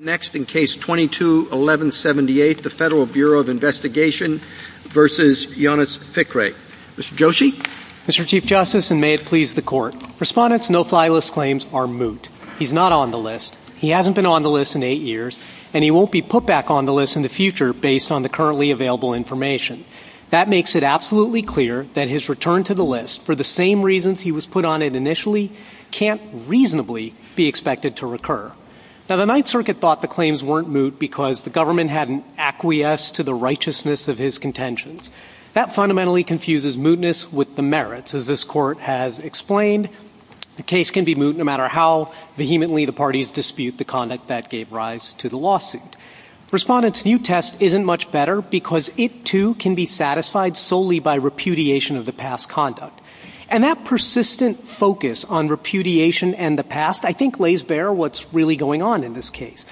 Next in Case 22-1178, the Federal Bureau of Investigation v. Jonas Fikre. Mr. Joshi? Mr. Chief Justice, and may it please the Court, Respondent's no-fly list claims are moot. He's not on the list, he hasn't been on the list in eight years, and he won't be put back on the list in the future based on the currently available information. That makes it absolutely clear that his return to the list, for the same reasons he was put on it initially, can't reasonably be expected to recur. Now, the Ninth Circuit thought the claims weren't moot because the government hadn't acquiesced to the righteousness of his contentions. That fundamentally confuses mootness with the merits, as this Court has explained. The case can be moot no matter how vehemently the parties dispute the conduct that gave rise to the lawsuit. Respondent's new test isn't much better because it, too, can be satisfied solely by repudiation of the past conduct. And that persistent focus on repudiation and the past, I think, lays bare what's really going on in this case.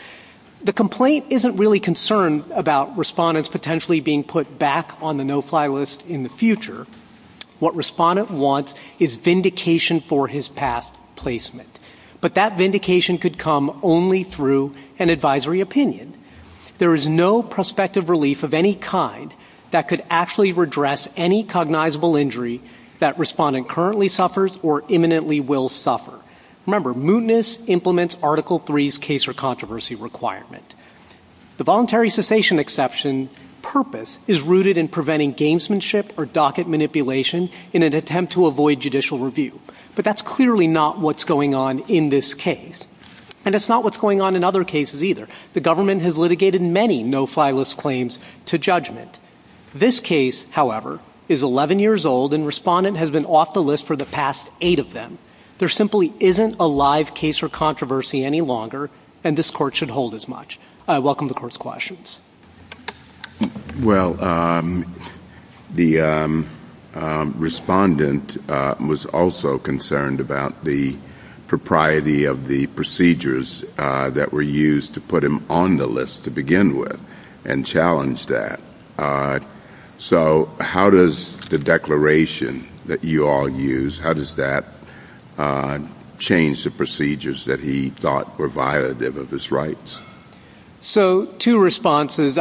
The complaint isn't really concerned about Respondent's potentially being put back on the no-fly list in the future. What Respondent wants is vindication for his past placement. But that vindication could come only through an advisory opinion. There is no prospective relief of any kind that could actually redress any cognizable injury that Respondent currently suffers or imminently will suffer. Remember, mootness implements Article III's case or controversy requirement. The voluntary cessation exception purpose is rooted in preventing gamesmanship or docket manipulation in an attempt to avoid judicial review. But that's clearly not what's going on in this case. And it's not what's going on in other cases, either. The government has litigated many no-fly list claims to judgment. This case, however, is 11 years old, and Respondent has been off the list for the past eight of them. There simply isn't a live case or controversy any longer, and this Court should hold as much. I welcome the Court's questions. Well, the Respondent was also concerned about the propriety of the procedures that were used to put him on the list to begin with and challenged that. So how does the declaration that you all use, how does that change the procedures that he thought were violative of his rights? So, two responses.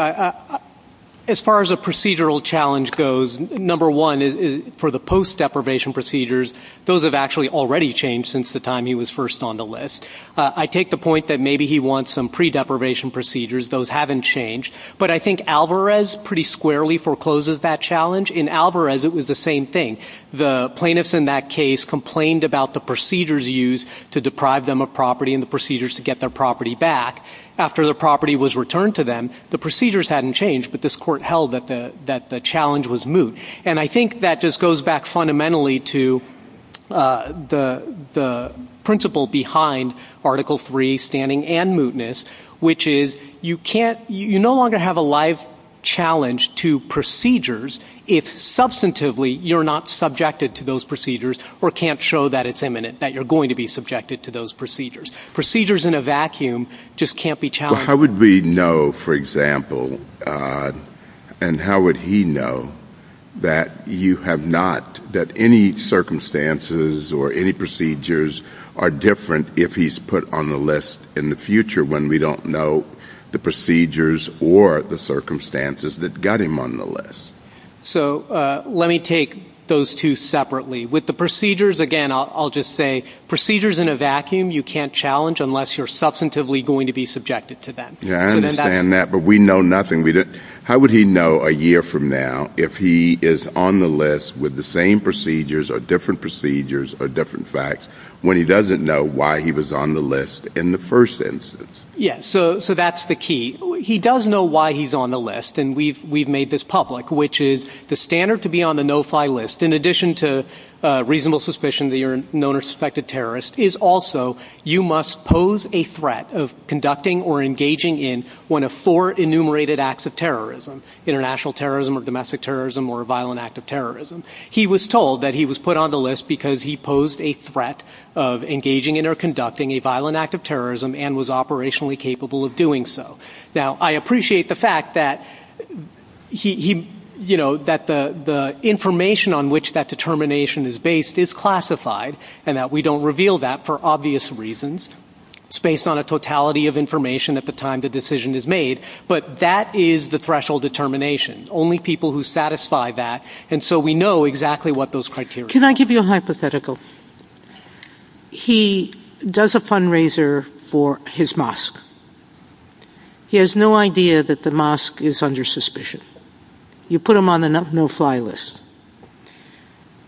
As far as a procedural challenge goes, number one, for the post-deprivation procedures, those have actually already changed since the time he was first on the list. I take the point that maybe he wants some pre-deprivation procedures. Those haven't changed. But I think Alvarez pretty squarely forecloses that challenge. In Alvarez, it was the same thing. The plaintiffs in that case complained about the procedures used to deprive them of property and the procedures to get their property back. After the property was returned to them, the procedures hadn't changed, but this Court held that the challenge was moot. And I think that just goes back fundamentally to the principle behind Article III, standing and mootness, which is you can't, you no longer have a life challenge to procedures if substantively you're not subjected to those procedures or can't show that it's imminent, that you're going to be subjected to those procedures. Procedures in a vacuum just can't be challenged. How would we know, for example, and how would he know that you have not, that any circumstances or any procedures are different if he's put on the list in the future when we don't know the procedures or the circumstances that got him on the list? So let me take those two separately. With the procedures, again, I'll just say procedures in a vacuum you can't challenge unless you're substantively going to be subjected to them. Yeah, I understand that, but we know nothing. How would he know a year from now if he is on the list with the same procedures or different procedures or different facts when he doesn't know why he was on the list in the first instance? Yeah, so that's the key. He does know why he's on the list, and we've made this public, which is the standard to be on the no-fly list, in addition to reasonable suspicion that you're a known or suspected terrorist, is also you must pose a threat of conducting or engaging in one of four enumerated acts of terrorism, international terrorism or domestic terrorism or a violent act of terrorism. He was told that he was put on the list because he posed a threat of engaging in or conducting a violent act of terrorism and was operationally capable of doing so. Now, I appreciate the fact that the information on which that determination is based is classified and that we don't reveal that for obvious reasons. It's based on a totality of information at the time the decision is made, but that is the threshold determination. Only people who satisfy that, and so we know exactly what those criteria are. Can I give you a hypothetical? He does a fundraiser for his mosque. He has no idea that the mosque is under suspicion. You put him on a no-fly list.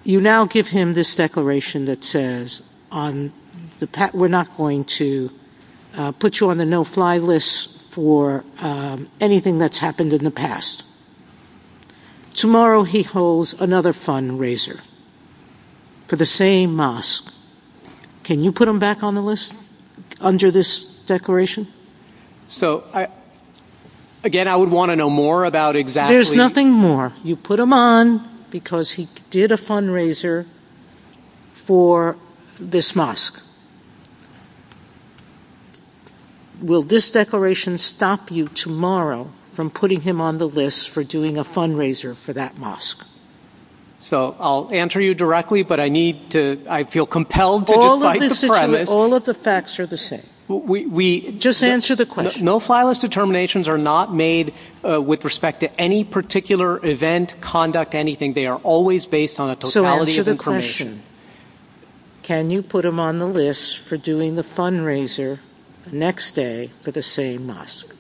You now give him this declaration that says we're not going to put you on a no-fly list for anything that's happened in the past. Tomorrow, he holds another fundraiser for the same mosque. Can you put him back on the list under this declaration? Again, I would want to know more about exactly... There's nothing more. You put him on because he did a fundraiser for this mosque. Will this declaration stop you tomorrow from putting him on the list for doing a fundraiser for that mosque? So, I'll answer you directly, but I feel compelled to... All of the facts are the same. Just answer the question. No-fly list determinations are not made with respect to any particular event, conduct, anything. They are always based on a totality of information. So, answer the question. Can you put him on the list for doing the fundraiser next day for the same mosque?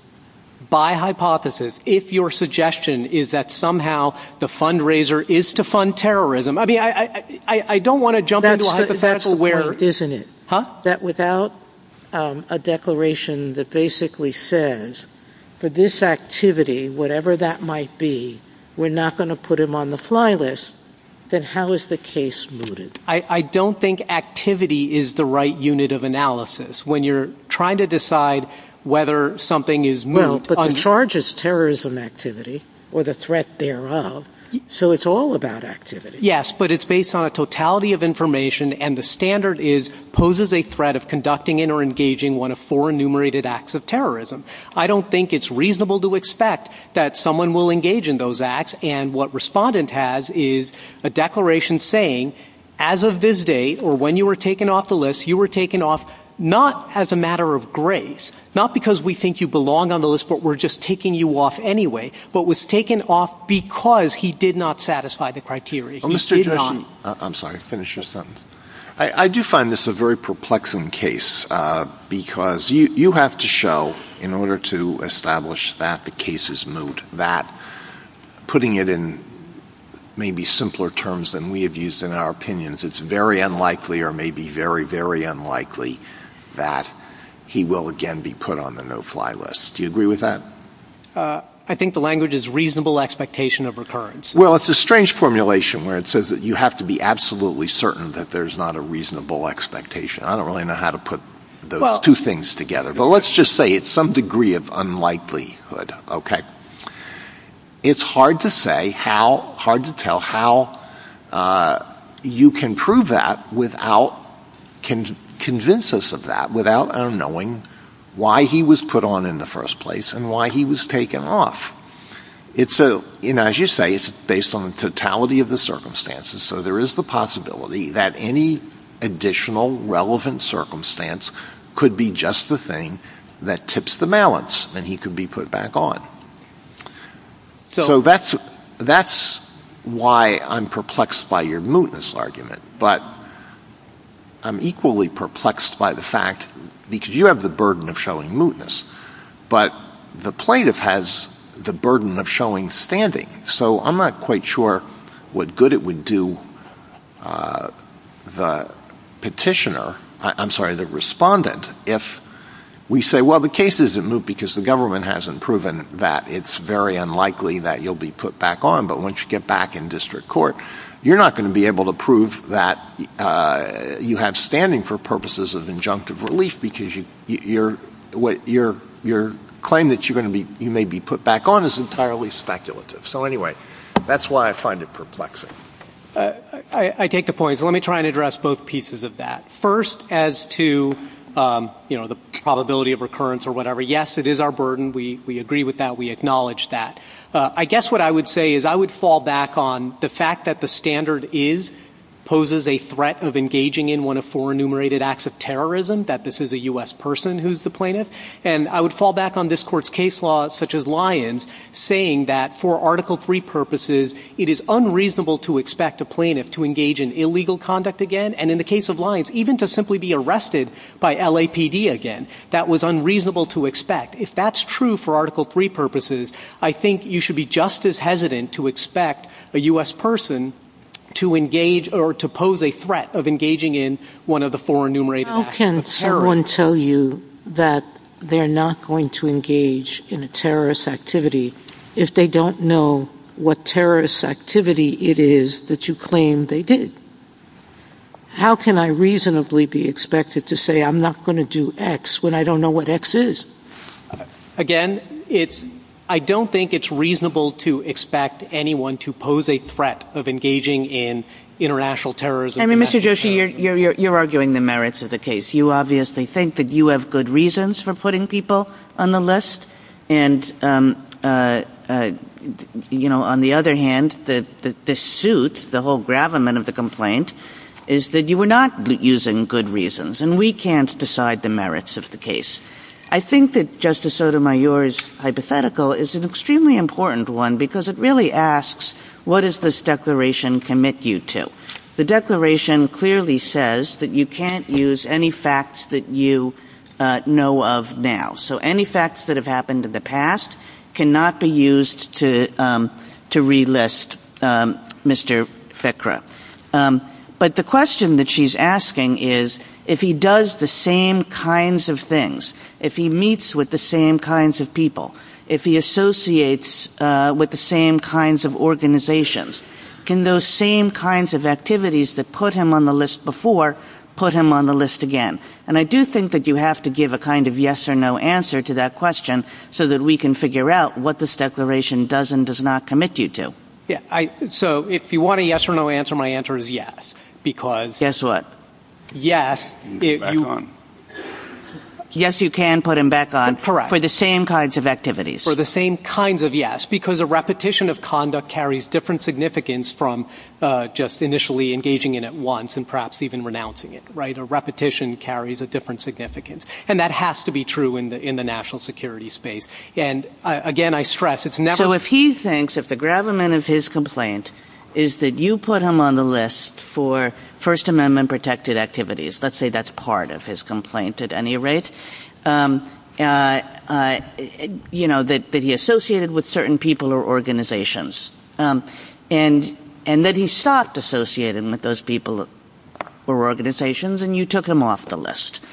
By hypothesis, if your suggestion is that somehow the fundraiser is to fund terrorism... I mean, I don't want to jump into a hypothetical where... That's the point, isn't it? Huh? ...that without a declaration that basically says, for this activity, whatever that might be, we're not going to put him on the fly list, then how is the case mooted? I don't think activity is the right unit of analysis. When you're trying to decide whether something is moot... Well, but the charge is terrorism activity or the threat thereof, so it's all about activity. Yes, but it's based on a totality of information, and the standard is, poses a threat of conducting or engaging one of four enumerated acts of terrorism. I don't think it's reasonable to expect that someone will engage in those acts, and what Respondent has is a declaration saying, as of this date, or when you were taken off the list, you were taken off not as a matter of grace, not because we think you belong on the list, but we're just taking you off anyway, but was taken off because he did not satisfy the criteria. I'm sorry, finish your sentence. I do find this a very perplexing case, because you have to show, in order to establish that the case is moot, that putting it in maybe simpler terms than we have used in our opinions, it's very unlikely or maybe very, very unlikely that he will again be put on the no-fly list. Do you agree with that? I think the language is reasonable expectation of recurrence. Well, it's a strange formulation where it says that you have to be absolutely certain that there's not a reasonable expectation. I don't really know how to put those two things together, but let's just say it's some degree of unlikelihood. It's hard to say how, hard to tell how, you can prove that without, can convince us of that, without our knowing why he was put on in the first place and why he was taken off. As you say, it's based on totality of the circumstances, so there is the possibility that any additional relevant circumstance could be just the thing that tips the balance and he could be put back on. So that's why I'm perplexed by your mootness argument, but I'm equally perplexed by the fact, because you have the burden of showing mootness, but the plaintiff has the burden of showing standing, so I'm not quite sure what good it would do the petitioner, I'm sorry, the respondent, if we say, well, the case isn't moot because the government hasn't proven that. It's very unlikely that you'll be put back on, but once you get back in district court, you're not going to be able to prove that you have standing for purposes of injunctive relief because your claim that you may be put back on is entirely speculative. So anyway, that's why I find it perplexing. I take the point. Let me try and address both pieces of that. First, as to the probability of recurrence or whatever, yes, it is our burden. We agree with that. We acknowledge that. I guess what I would say is I would fall back on the fact that the standard is, poses a threat of engaging in one of four enumerated acts of terrorism, that this is a U.S. person who's the plaintiff, and I would fall back on this court's case law, such as Lyons, saying that for Article III purposes, it is unreasonable to expect a plaintiff to engage in illegal conduct again, and in the case of Lyons, even to simply be arrested by LAPD again. That was unreasonable to expect. If that's true for Article III purposes, I think you should be just as hesitant to expect a U.S. person to engage or to pose a threat of engaging in one of the four enumerated acts of terrorism. How can someone tell you that they're not going to engage in a terrorist activity if they don't know what terrorist activity it is that you claim they did? How can I reasonably be expected to say I'm not going to do X when I don't know what X is? Again, I don't think it's reasonable to expect anyone to pose a threat of engaging in international terrorism. I mean, Mr. Joshi, you're arguing the merits of the case. You obviously think that you have good reasons for putting people on the list, and on the other hand, the suit, the whole gravamen of the complaint, is that you were not using good reasons, and we can't decide the merits of the case. I think that Justice Sotomayor's hypothetical is an extremely important one because it really asks, what does this declaration commit you to? The declaration clearly says that you can't use any facts that you know of now. So any facts that have happened in the past cannot be used to relist Mr. Fikra. But the question that she's asking is, if he does the same kinds of things, if he meets with the same kinds of people, if he associates with the same kinds of organizations, can those same kinds of activities that put him on the list before put him on the list again? And I do think that you have to give a kind of yes or no answer to that question so that we can figure out what this declaration does and does not commit you to. So if you want a yes or no answer, my answer is yes. Guess what? Yes, you can put him back on for the same kinds of activities. For the same kinds of yes, because a repetition of conduct carries different significance from just initially engaging in it once and perhaps even renouncing it. A repetition carries a different significance, and that has to be true in the national security space. Again, I stress it's never... So if he thinks that the gravamen of his complaint is that you put him on the list for First Amendment-protected activities, let's say that's part of his complaint at any rate, that he associated with certain people or organizations, and that he stopped associating with those people or organizations and you took him off the list,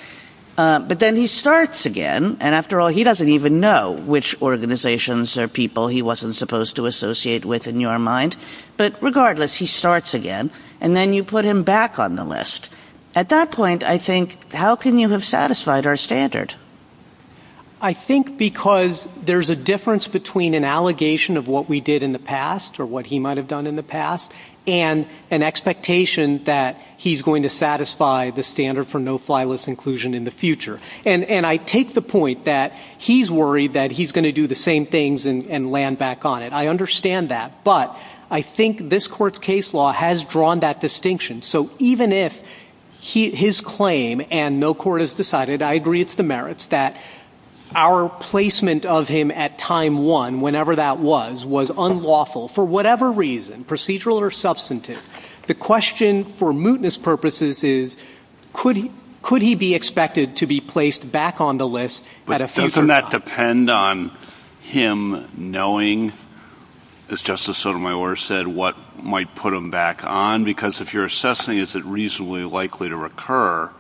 but then he starts again, and after all, he doesn't even know which organizations or people he wasn't supposed to associate with in your mind, but regardless, he starts again, and then you put him back on the list. At that point, I think, how can you have satisfied our standard? I think because there's a difference between an allegation of what we did in the past or what he might have done in the past and an expectation that he's going to satisfy the standard for no-fly list inclusion in the future. And I take the point that he's worried that he's going to do the same things and land back on it. I understand that, but I think this court's case law has drawn that distinction. So even if his claim and no court has decided, I agree it's demerits, that our placement of him at time one, whenever that was, was unlawful for whatever reason, procedural or substantive, the question for mootness purposes is, could he be expected to be placed back on the list at a future time? But doesn't that depend on him knowing, as Justice Sotomayor said, what might put him back on? Because if you're assessing is it reasonably likely to recur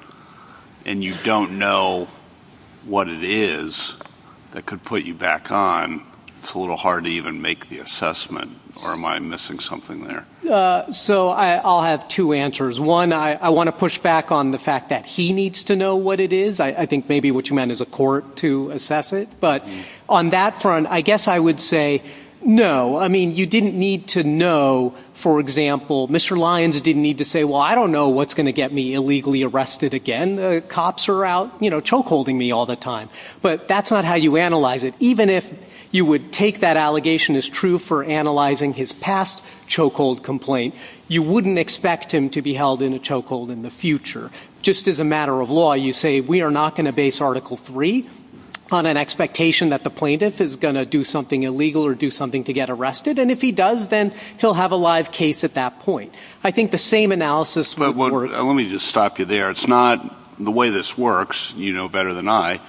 and you don't know what it is that could put you back on, it's a little hard to even make the assessment, or am I missing something there? So I'll have two answers. One, I want to push back on the fact that he needs to know what it is. I think maybe what you meant is a court to assess it. But on that front, I guess I would say no. I mean, you didn't need to know, for example, Mr. Lyons didn't need to say, well, I don't know what's going to get me illegally arrested again. The cops are out, you know, chokeholding me all the time. But that's not how you analyze it. Even if you would take that allegation as true for analyzing his past chokehold complaint, you wouldn't expect him to be held in a chokehold in the future. Just as a matter of law, you say we are not going to base Article III on an expectation that the plaintiff is going to do something illegal or do something to get arrested, and if he does, then he'll have a live case at that point. I think the same analysis would work. Let me just stop you there. The way this works, you know better than I,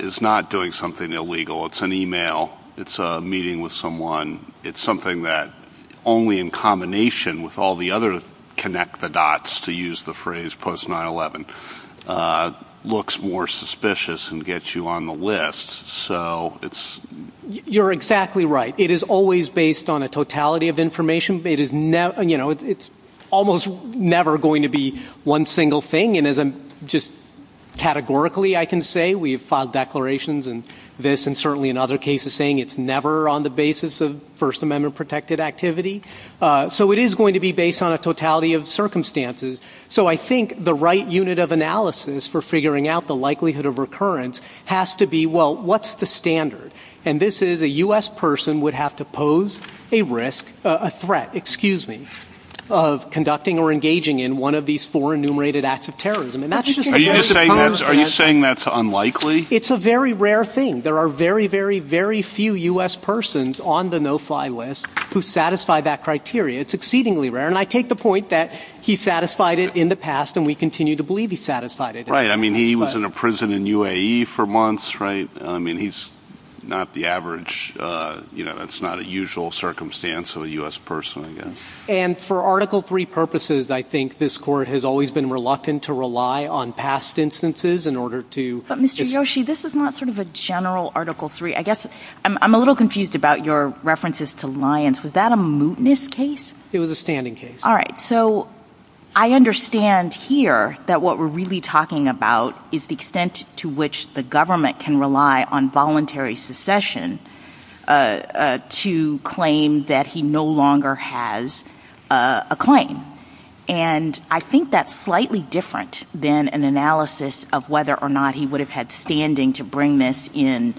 is not doing something illegal. It's an e-mail. It's a meeting with someone. It's something that only in combination with all the other connect the dots, to use the phrase post-9-11, looks more suspicious and gets you on the list. You're exactly right. It is always based on a totality of information. It's almost never going to be one single thing. And just categorically, I can say we have filed declarations and this, and certainly in other cases saying it's never on the basis of First Amendment-protected activity. So it is going to be based on a totality of circumstances. So I think the right unit of analysis for figuring out the likelihood of recurrence has to be, well, what's the standard? And this is a U.S. person would have to pose a risk, a threat, excuse me, of conducting or engaging in one of these four enumerated acts of terrorism. Are you saying that's unlikely? It's a very rare thing. There are very, very, very few U.S. persons on the no-fly list who satisfy that criteria. It's exceedingly rare. And I take the point that he satisfied it in the past, and we continue to believe he satisfied it. Right. I mean, he was in a prison in UAE for months. That's right. I mean, he's not the average. You know, that's not a usual circumstance of a U.S. person. And for Article III purposes, I think this Court has always been reluctant to rely on past instances in order to- But Mr. Yoshi, this is not sort of a general Article III. I guess I'm a little confused about your references to Lyons. Was that a mootness case? It was a standing case. All right. So I understand here that what we're really talking about is the extent to which the government can rely on voluntary secession to claim that he no longer has a claim. And I think that's slightly different than an analysis of whether or not he would have had standing to bring this in,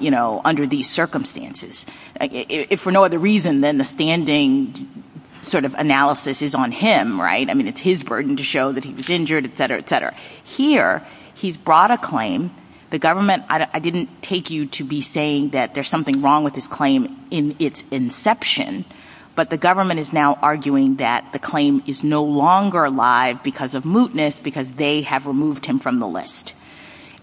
you know, under these circumstances. If for no other reason than the standing sort of analysis is on him, right? I mean, it's his burden to show that he was injured, et cetera, et cetera. Here, he's brought a claim. The government-I didn't take you to be saying that there's something wrong with this claim in its inception. But the government is now arguing that the claim is no longer alive because of mootness, because they have removed him from the list.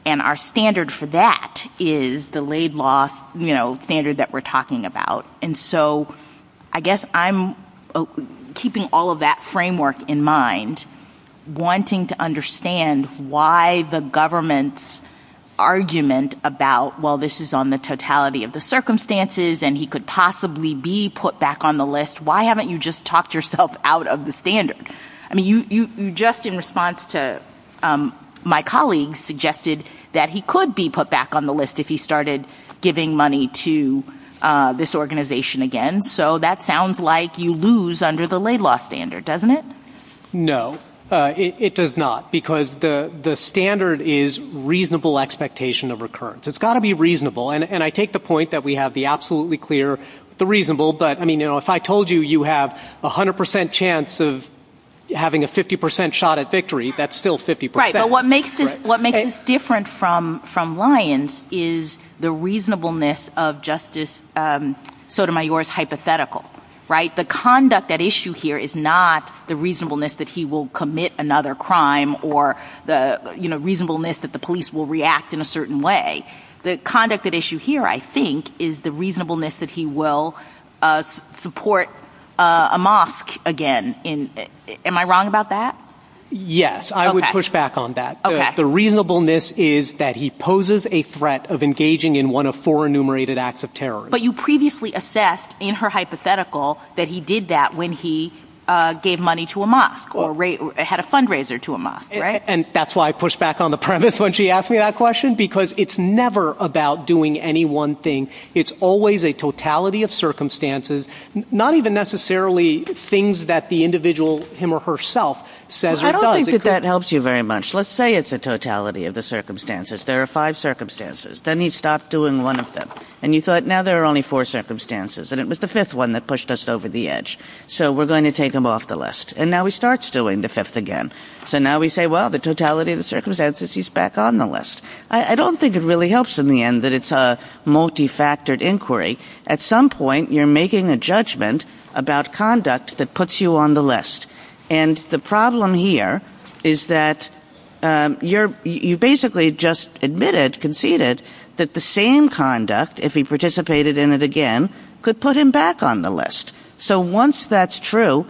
And our standard for that is the laid law, you know, standard that we're talking about. And so I guess I'm keeping all of that framework in mind, wanting to understand why the government's argument about, well, this is on the totality of the circumstances and he could possibly be put back on the list. Why haven't you just talked yourself out of the standard? I mean, you just in response to my colleague suggested that he could be put back on the list if he started giving money to this organization again. So that sounds like you lose under the laid law standard, doesn't it? No, it does not. Because the standard is reasonable expectation of recurrence. It's got to be reasonable. And I take the point that we have the absolutely clear, the reasonable. But, I mean, you know, if I told you you have 100 percent chance of having a 50 percent shot at victory, that's still 50 percent. Right, but what makes this different from Lyons is the reasonableness of Justice Sotomayor's hypothetical, right? The conduct at issue here is not the reasonableness that he will commit another crime or the reasonableness that the police will react in a certain way. The conduct at issue here, I think, is the reasonableness that he will support a mosque again. Am I wrong about that? Yes, I would push back on that. The reasonableness is that he poses a threat of engaging in one of four enumerated acts of terror. But you previously assessed in her hypothetical that he did that when he gave money to a mosque or had a fundraiser to a mosque, right? And that's why I pushed back on the premise when she asked me that question, because it's never about doing any one thing. It's always a totality of circumstances, not even necessarily things that the individual, him or herself, says or does. I don't think that that helps you very much. Let's say it's a totality of the circumstances. There are five circumstances. Then he stopped doing one of them. And you thought, now there are only four circumstances. And it was the fifth one that pushed us over the edge. So we're going to take him off the list. And now he starts doing the fifth again. So now we say, well, the totality of the circumstances, he's back on the list. I don't think it really helps in the end that it's a multifactored inquiry. At some point, you're making a judgment about conduct that puts you on the list. And the problem here is that you basically just admitted, conceded, that the same conduct, if he participated in it again, could put him back on the list. So once that's true,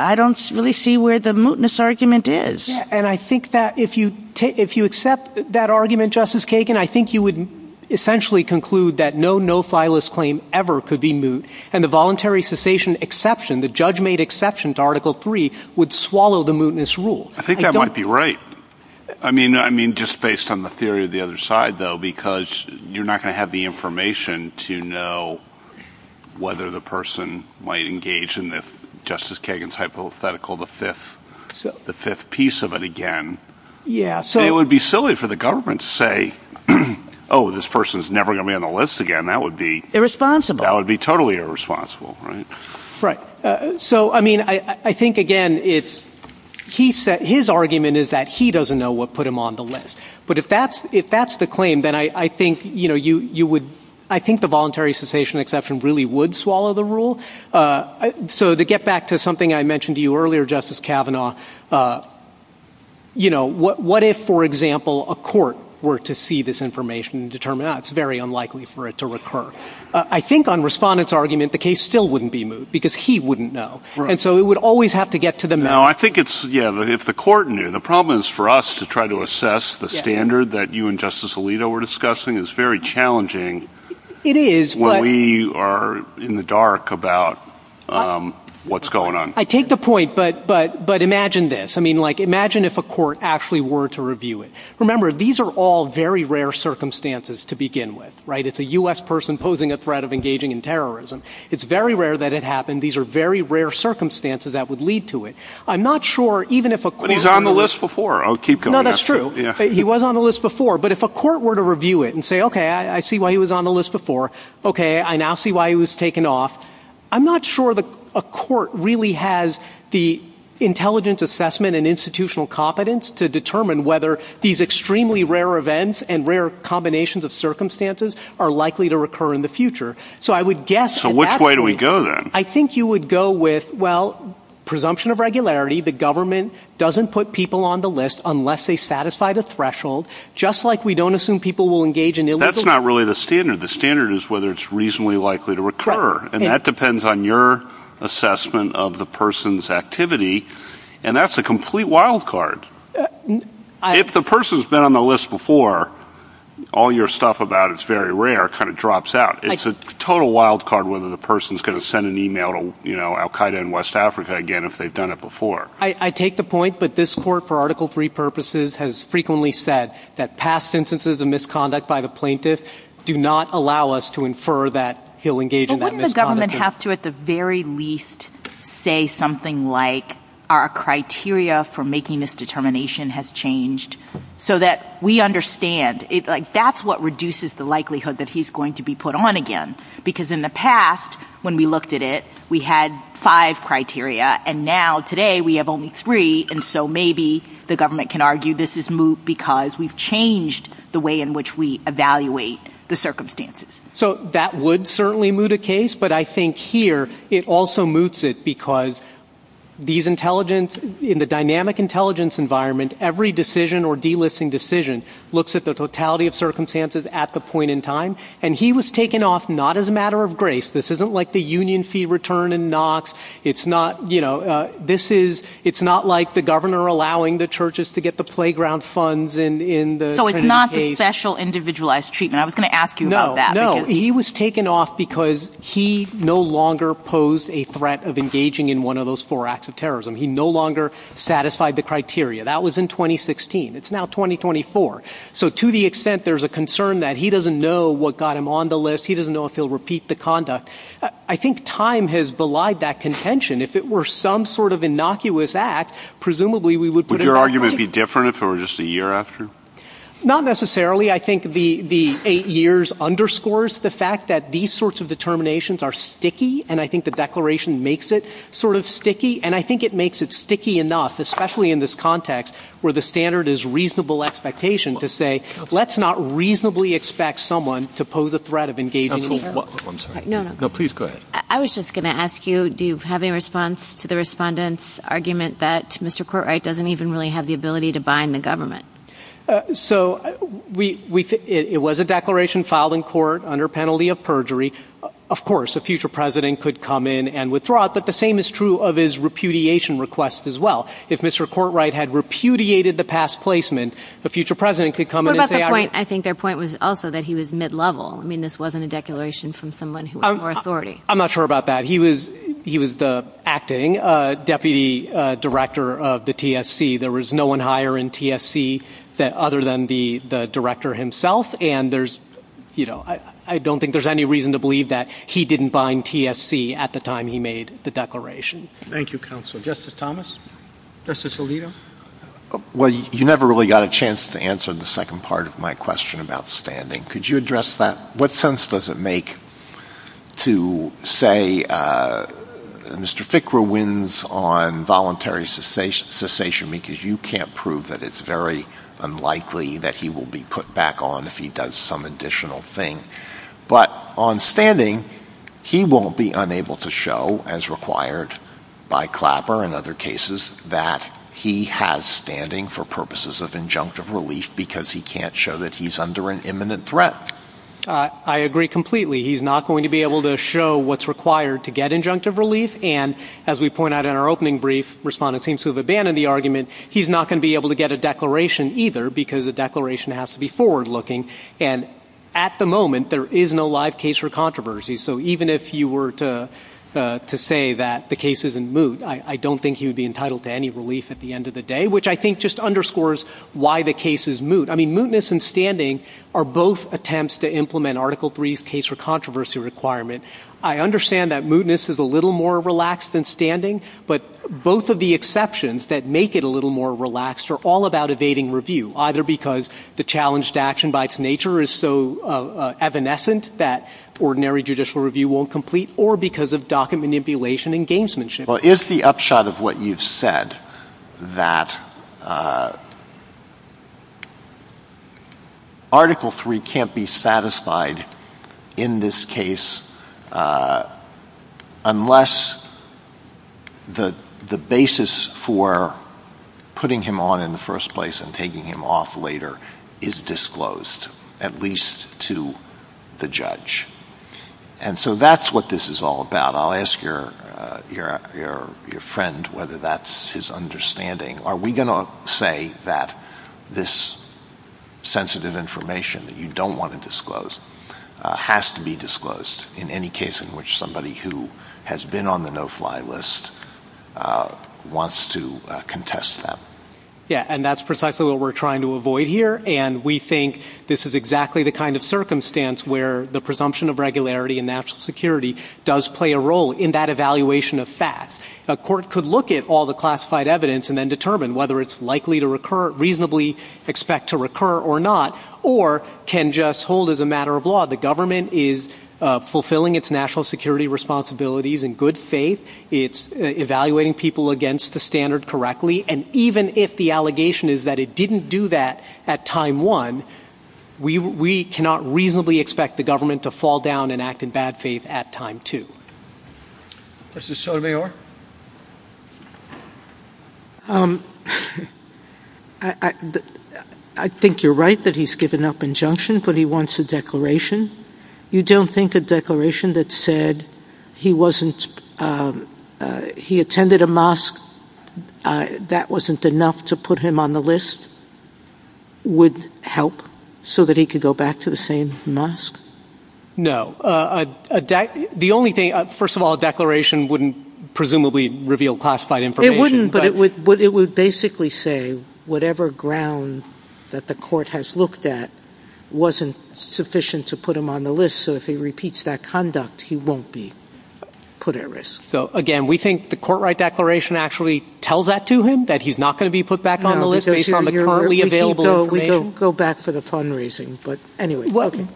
I don't really see where the mootness argument is. And I think that if you accept that argument, Justice Kagan, I think you would essentially conclude that no no-filers claim ever could be moot. And the voluntary cessation exception, the judge-made exception to Article III, would swallow the mootness rule. I think that might be right. I mean, just based on the theory of the other side, though, because you're not going to have the information to know whether the person might engage in Justice Kagan's hypothetical, the fifth piece of it again. It would be silly for the government to say, oh, this person is never going to be on the list again. That would be totally irresponsible. Right. So, I mean, I think, again, his argument is that he doesn't know what put him on the list. But if that's the claim, then I think the voluntary cessation exception really would swallow the rule. So to get back to something I mentioned to you earlier, Justice Kavanaugh, what if, for example, a court were to see this information and determine, oh, it's very unlikely for it to recur? I think on Respondent's argument, the case still wouldn't be moot because he wouldn't know. And so it would always have to get to the matter. Now, I think it's, yeah, if the court knew. The problem is for us to try to assess the standard that you and Justice Alito were discussing is very challenging. It is. When we are in the dark about what's going on. I take the point, but imagine this. I mean, like, imagine if a court actually were to review it. Remember, these are all very rare circumstances to begin with. It's a U.S. person posing a threat of engaging in terrorism. It's very rare that it happened. These are very rare circumstances that would lead to it. I'm not sure even if a court. But he's on the list before. I'll keep going. No, that's true. He was on the list before. But if a court were to review it and say, okay, I see why he was on the list before. Okay, I now see why he was taken off. I'm not sure a court really has the intelligence assessment and institutional competence to determine whether these extremely rare events and rare combinations of circumstances are likely to occur in the future. So I would guess. So which way do we go, then? I think you would go with, well, presumption of regularity. The government doesn't put people on the list unless they satisfy the threshold. Just like we don't assume people will engage in illegal. That's not really the standard. The standard is whether it's reasonably likely to occur. And that depends on your assessment of the person's activity. And that's a complete wild card. If the person's been on the list before, all your stuff about it's very rare kind of drops out. It's a total wild card whether the person's going to send an email to, you know, Al Qaeda in West Africa again if they've done it before. I take the point. But this court, for Article III purposes, has frequently said that past instances of misconduct by the plaintiff do not allow us to infer that he'll engage in that misconduct. Doesn't the government have to at the very least say something like our criteria for making this determination has changed so that we understand? That's what reduces the likelihood that he's going to be put on again. Because in the past, when we looked at it, we had five criteria. And now, today, we have only three. And so maybe the government can argue this is moot because we've changed the way in which we evaluate the circumstances. So that would certainly moot a case. But I think here it also moots it because these intelligence, in the dynamic intelligence environment, every decision or delisting decision looks at the totality of circumstances at the point in time. And he was taken off not as a matter of grace. This isn't like the union fee return in Knox. It's not, you know, this is – it's not like the governor allowing the churches to get the playground funds in the case. So it's not the special individualized treatment. I was going to ask you about that. No, no. He was taken off because he no longer posed a threat of engaging in one of those four acts of terrorism. He no longer satisfied the criteria. That was in 2016. It's now 2024. So to the extent there's a concern that he doesn't know what got him on the list, he doesn't know if he'll repeat the conduct, I think time has belied that contention. If it were some sort of innocuous act, presumably we would put him on the list. Would your argument be different if it were just a year after? Not necessarily. I think the eight years underscores the fact that these sorts of determinations are sticky, and I think the declaration makes it sort of sticky, and I think it makes it sticky enough, especially in this context where the standard is reasonable expectation to say let's not reasonably expect someone to pose a threat of engaging in any of those. I'm sorry. No, no. No, please go ahead. I was just going to ask you, do you have any response to the respondent's argument that Mr. Courtright doesn't even really have the ability to bind the government? So it was a declaration filed in court under penalty of perjury. Of course, a future president could come in and withdraw it, but the same is true of his repudiation request as well. If Mr. Courtright had repudiated the past placement, a future president could come in and say – What about their point? I think their point was also that he was mid-level. I mean, this wasn't a declaration from someone who was more authority. I'm not sure about that. He was the acting deputy director of the TSC. There was no one higher in TSC other than the director himself, and I don't think there's any reason to believe that he didn't bind TSC at the time he made the declaration. Thank you, counsel. Justice Thomas? Justice Alito? Well, you never really got a chance to answer the second part of my question about standing. Could you address that? to say Mr. Fickrew wins on voluntary cessation because you can't prove that it's very unlikely that he will be put back on if he does some additional thing. But on standing, he won't be unable to show, as required by Clapper and other cases, that he has standing for purposes of injunctive relief because he can't show that he's under an imminent threat. I agree completely. He's not going to be able to show what's required to get injunctive relief. And as we point out in our opening brief, respondents seem to have abandoned the argument. He's not going to be able to get a declaration either because the declaration has to be forward-looking. And at the moment, there is no live case for controversy. So even if you were to say that the case isn't moot, I don't think he would be entitled to any relief at the end of the day, which I think just underscores why the case is moot. I mean, mootness and standing are both attempts to implement Article III's case for controversy requirement. I understand that mootness is a little more relaxed than standing, but both of the exceptions that make it a little more relaxed are all about evading review, either because the challenged action by its nature is so evanescent that ordinary judicial review won't complete, or because of docket manipulation and gamesmanship. Is the upshot of what you've said that Article III can't be satisfied in this case unless the basis for putting him on in the first place and taking him off later is disclosed, at least to the judge? And so that's what this is all about. I'll ask your friend whether that's his understanding. Are we going to say that this sensitive information that you don't want to disclose has to be disclosed in any case in which somebody who has been on the no-fly list wants to contest that? Yeah, and that's precisely what we're trying to avoid here, and we think this is exactly the kind of circumstance where the presumption of regularity and national security does play a role in that evaluation of facts. A court could look at all the classified evidence and then determine whether it's likely to reasonably expect to recur or not, or can just hold as a matter of law. The government is fulfilling its national security responsibilities in good faith. It's evaluating people against the standard correctly, and even if the allegation is that it didn't do that at time one, we cannot reasonably expect the government to fall down and act in bad faith at time two. I think you're right that he's given up injunction, but he wants a declaration. You don't think a declaration that said he attended a mosque, that wasn't enough to put him on the list, would help so that he could go back to the same mosque? No. First of all, a declaration wouldn't presumably reveal classified information. It wouldn't, but it would basically say whatever ground that the court has looked at wasn't sufficient to put him on the list, so if he repeats that conduct, he won't be put at risk. So, again, we think the court-right declaration actually tells that to him, that he's not going to be put back on the list based on the currently available information? No, we don't go back for the fundraising, but anyway.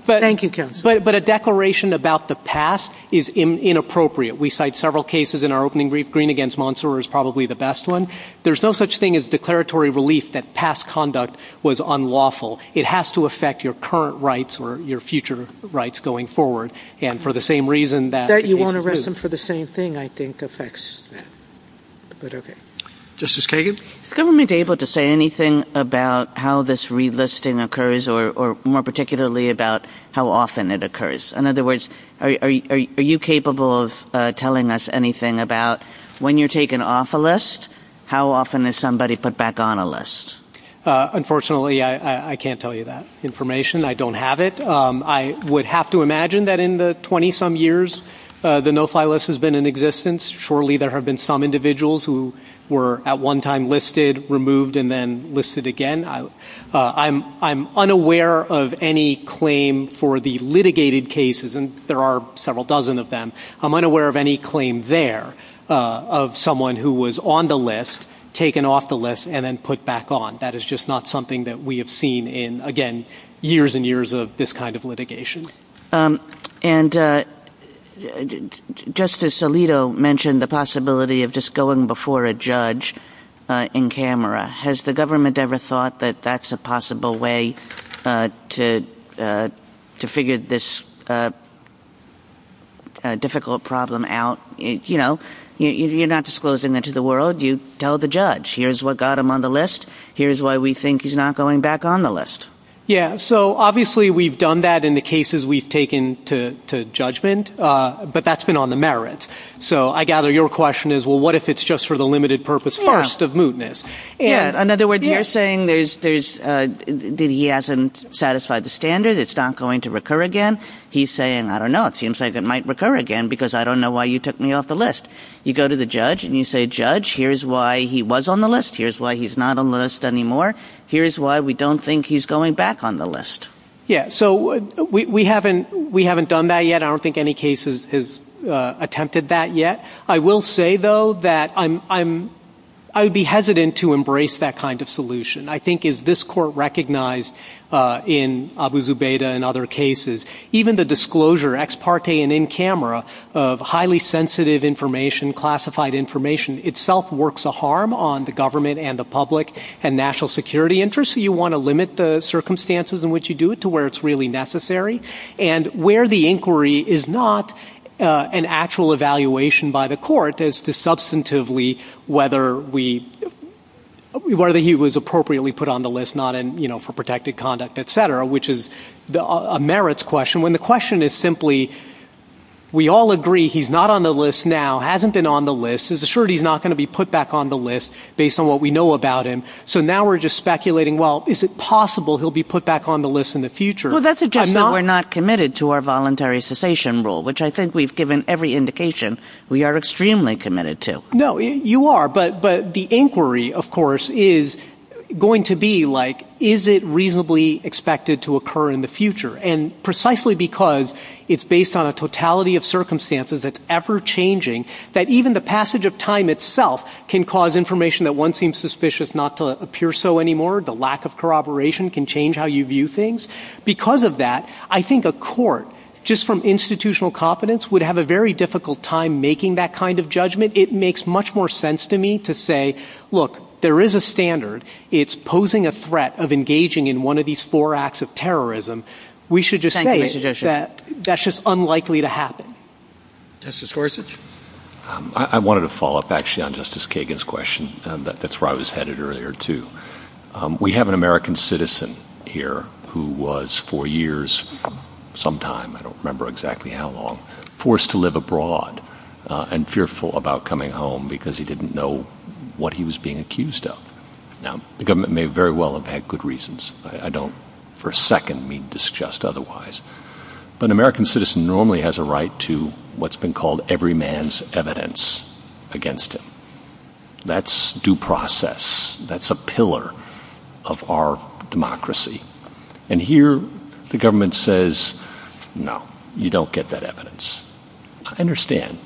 Thank you, counsel. But a declaration about the past is inappropriate. We cite several cases in our opening brief. Green against Monsour is probably the best one. There's no such thing as declaratory relief that past conduct was unlawful. It has to affect your current rights or your future rights going forward, and for the same reason that- That you won't arrest him for the same thing, I think, affects that. But, okay. Justice Kagan? Is the government able to say anything about how this relisting occurs or more particularly about how often it occurs? In other words, are you capable of telling us anything about when you're taken off a list, how often is somebody put back on a list? Unfortunately, I can't tell you that information. I don't have it. I would have to imagine that in the 20-some years the no-file list has been in existence, surely there have been some individuals who were at one time listed, removed, and then listed again. I'm unaware of any claim for the litigated cases, and there are several dozen of them. I'm unaware of any claim there of someone who was on the list, taken off the list, and then put back on. That is just not something that we have seen in, again, years and years of this kind of litigation. And Justice Alito mentioned the possibility of just going before a judge in camera. Has the government ever thought that that's a possible way to figure this difficult problem out? You know, you're not disclosing it to the world. You tell the judge, here's what got him on the list. Here's why we think he's not going back on the list. Yeah, so obviously we've done that in the cases we've taken to judgment, but that's been on the merits. So I gather your question is, well, what if it's just for the limited purpose first of mootness? Yeah, in other words, you're saying that he hasn't satisfied the standard, it's not going to recur again. He's saying, I don't know, it seems like it might recur again because I don't know why you took me off the list. You go to the judge and you say, judge, here's why he was on the list. Here's why he's not on the list anymore. Here's why we don't think he's going back on the list. Yeah, so we haven't done that yet. I don't think any case has attempted that yet. I will say, though, that I would be hesitant to embrace that kind of solution. I think as this court recognized in Abu Zubaydah and other cases, even the disclosure, ex parte and in camera, of highly sensitive information, classified information, itself works a harm on the government and the public and national security interests. You want to limit the circumstances in which you do it to where it's really necessary. And where the inquiry is not an actual evaluation by the court as to substantively whether he was appropriately put on the list, not for protected conduct, et cetera, which is a merits question, when the question is simply, we all agree he's not on the list now, hasn't been on the list, is assured he's not going to be put back on the list based on what we know about him. So now we're just speculating, well, is it possible he'll be put back on the list in the future? Well, that's just that we're not committed to our voluntary cessation rule, which I think we've given every indication we are extremely committed to. No, you are, but the inquiry, of course, is going to be like, is it reasonably expected to occur in the future? And precisely because it's based on a totality of circumstances that's ever changing, that even the passage of time itself can cause information that once seems suspicious not to appear so anymore, the lack of corroboration can change how you view things. Because of that, I think a court, just from institutional confidence, it makes much more sense to me to say, look, there is a standard. It's posing a threat of engaging in one of these four acts of terrorism. We should just say that that's just unlikely to happen. Justice Gorsuch? I wanted to follow up, actually, on Justice Kagan's question. That's where I was headed earlier, too. We have an American citizen here who was for years, some time, I don't remember exactly how long, forced to live abroad and fearful about coming home because he didn't know what he was being accused of. Now, the government may very well have had good reasons. I don't for a second mean to suggest otherwise. But an American citizen normally has a right to what's been called every man's evidence against him. That's due process. That's a pillar of our democracy. And here the government says, no, you don't get that evidence. I understand.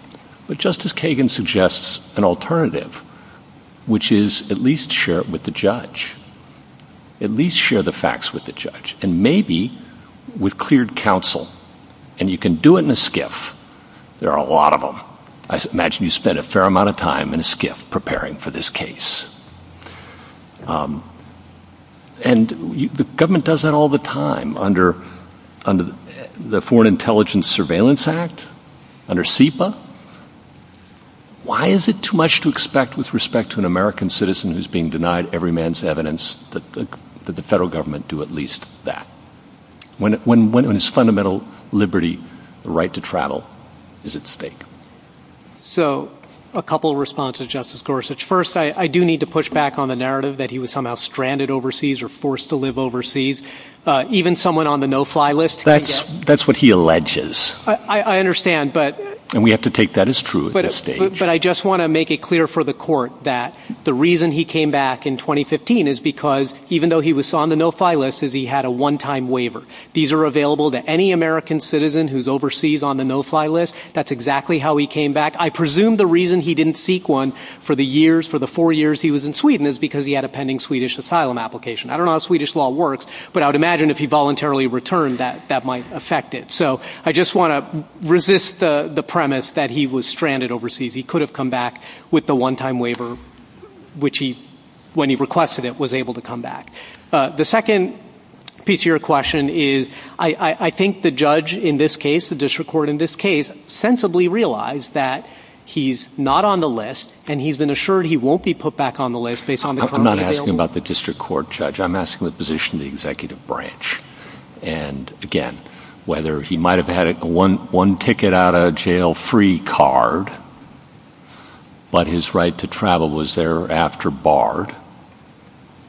But Justice Kagan suggests an alternative, which is at least share it with the judge. At least share the facts with the judge. And maybe with cleared counsel. And you can do it in a skiff. There are a lot of them. I imagine you spend a fair amount of time in a skiff preparing for this case. And the government does that all the time under the Foreign Intelligence Surveillance Act, under SIPA. Why is it too much to expect with respect to an American citizen who's being denied every man's evidence that the federal government do at least that? When it's fundamental liberty, the right to travel is at stake. So a couple of responses, Justice Gorsuch. First, I do need to push back on the narrative that he was somehow stranded overseas or forced to live overseas. Even someone on the no-fly list. That's what he alleges. I understand. And we have to take that as true at this stage. But I just want to make it clear for the court that the reason he came back in 2015 is because even though he was on the no-fly list is he had a one-time waiver. These are available to any American citizen who's overseas on the no-fly list. That's exactly how he came back. I presume the reason he didn't seek one for the years, for the four years he was in Sweden, is because he had a pending Swedish asylum application. I don't know how Swedish law works, but I would imagine if he voluntarily returned that that might affect it. So I just want to resist the premise that he was stranded overseas. He could have come back with the one-time waiver, which he, when he requested it, was able to come back. The second piece of your question is I think the judge in this case, the district court in this case, sensibly realized that he's not on the list, and he's been assured he won't be put back on the list based on the amount available. I'm not asking about the district court, Judge. I'm asking the position of the executive branch. And, again, whether he might have had a one-ticket-out-of-jail-free card, but his right to travel was thereafter barred,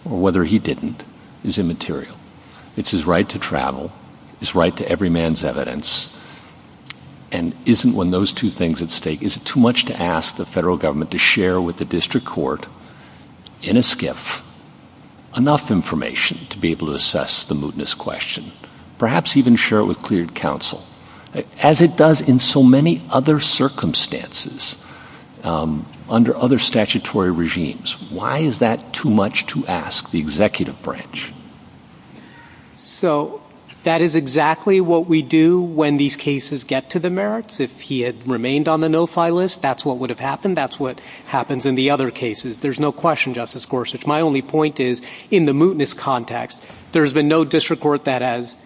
or whether he didn't is immaterial. It's his right to travel, his right to every man's evidence. And isn't when those two things at stake, is it too much to ask the federal government to share with the district court in a SCIF enough information to be able to assess the mootness question, perhaps even share it with cleared counsel, as it does in so many other circumstances under other statutory regimes? Why is that too much to ask the executive branch? So, that is exactly what we do when these cases get to the merits. If he had remained on the no-file list, that's what would have happened. That's what happens in the other cases. There's no question, Justice Gorsuch. My only point is in the mootness context, there's been no district court that has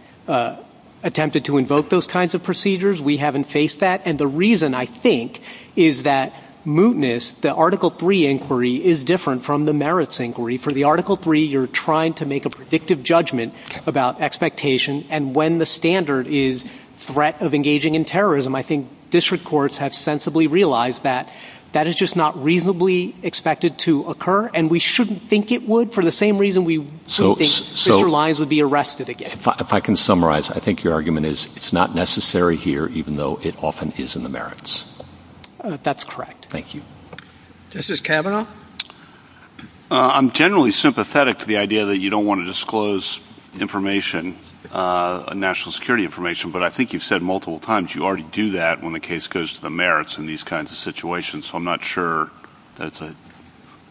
attempted to invoke those kinds of procedures. We haven't faced that. And the reason, I think, is that mootness, the Article III inquiry, is different from the merits inquiry. For the Article III, you're trying to make a predictive judgment about expectation. And when the standard is threat of engaging in terrorism, I think district courts have sensibly realized that that is just not reasonably expected to occur. And we shouldn't think it would. For the same reason, we shouldn't think that lines would be arrested again. If I can summarize, I think your argument is it's not necessary here, even though it often is in the merits. That's correct. Thank you. Justice Kavanaugh? I'm generally sympathetic to the idea that you don't want to disclose information, national security information. But I think you've said multiple times you already do that when the case goes to the merits in these kinds of situations. So I'm not sure that's a